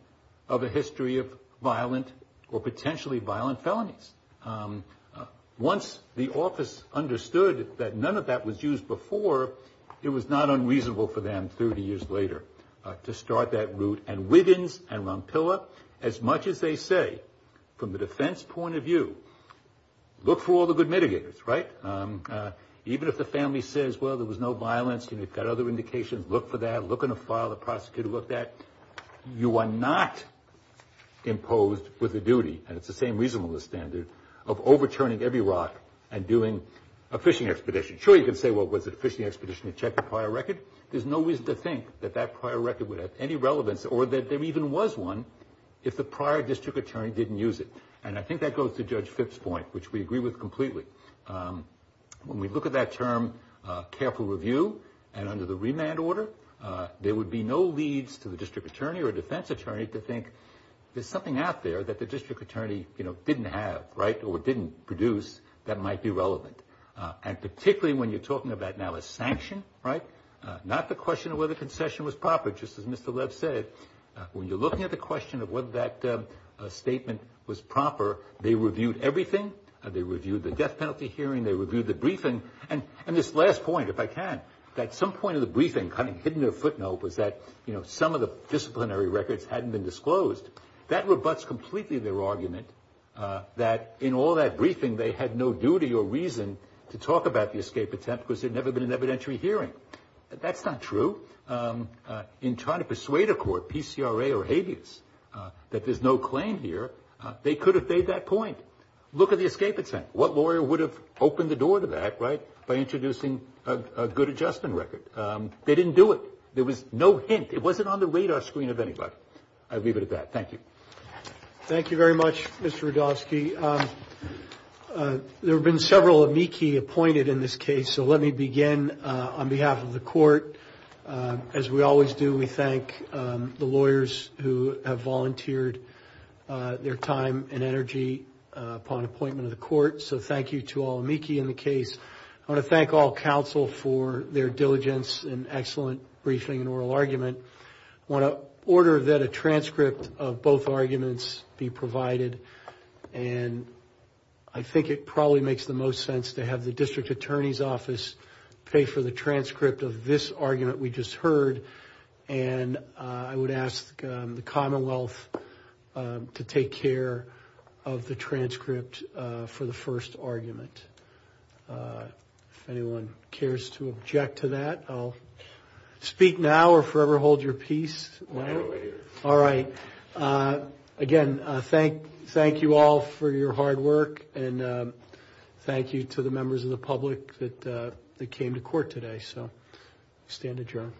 of a history of violent or potentially violent felonies. Once the office understood that none of that was used before, it was not unreasonable for them, 30 years later, to start that route. And Wiggins and Rompilla, as much as they say, from the defense point of view, look for all the good mitigators, right? Even if the family says, well, there was no violence and you've got other indications, look for that, look in the file the prosecutor looked at, you are not imposed with a duty. And it's the same reason on the standard of overturning every rock and doing a fishing expedition. Sure, you can say, well, it was a fishing expedition to check the prior record. There's no reason to think that that prior record would have any relevance or that there even was one if the prior district attorney didn't use it. And I think that goes to Judge Fitts's point, which we agree with completely. When we look at that term, careful review, and under the remand order, there would be no leads to the district attorney or defense attorney to think there's something out there that the district attorney didn't have or didn't produce that might be relevant. And particularly when you're talking about now a sanction, right, not the question of whether the concession was proper, just as Mr. Lev said. When you're looking at the question of whether that statement was proper, they reviewed everything. They reviewed the death penalty hearing. They reviewed the briefing. And this last point, if I can, at some point in the briefing, kind of hidden in a footnote, was that some of the disciplinary records hadn't been disclosed. That rebutts completely their argument that in all that briefing, they had no duty or reason to talk about the escape attempt because there had never been an evidentiary hearing. That's not true. In trying to persuade a court, PCRA or habeas, that there's no claim here, they could have made that point. Look at the escape attempt. What lawyer would have opened the door to that by introducing a good adjustment record? They didn't do it. There was no hint. It wasn't on the radar screen of anybody. I'll leave it at that. Thank you. Thank you very much, Mr. Rudofsky. There have been several amici appointed in this case, so let me begin on behalf of the court. As we always do, we thank the lawyers who have volunteered their time and energy upon appointment of the court. So thank you to all amici in the case. I want to thank all counsel for their diligence and excellent briefing and oral argument. I want to order that a transcript of both arguments be provided, and I think it probably makes the most sense to have the district attorney's office pay for the transcript of this argument we just heard. And I would ask the Commonwealth to take care of the transcript for the first argument. If anyone cares to object to that, I'll speak now or forever hold your peace. All right. Again, thank you all for your hard work, and thank you to the members of the public that came to court today. So stand adjourned.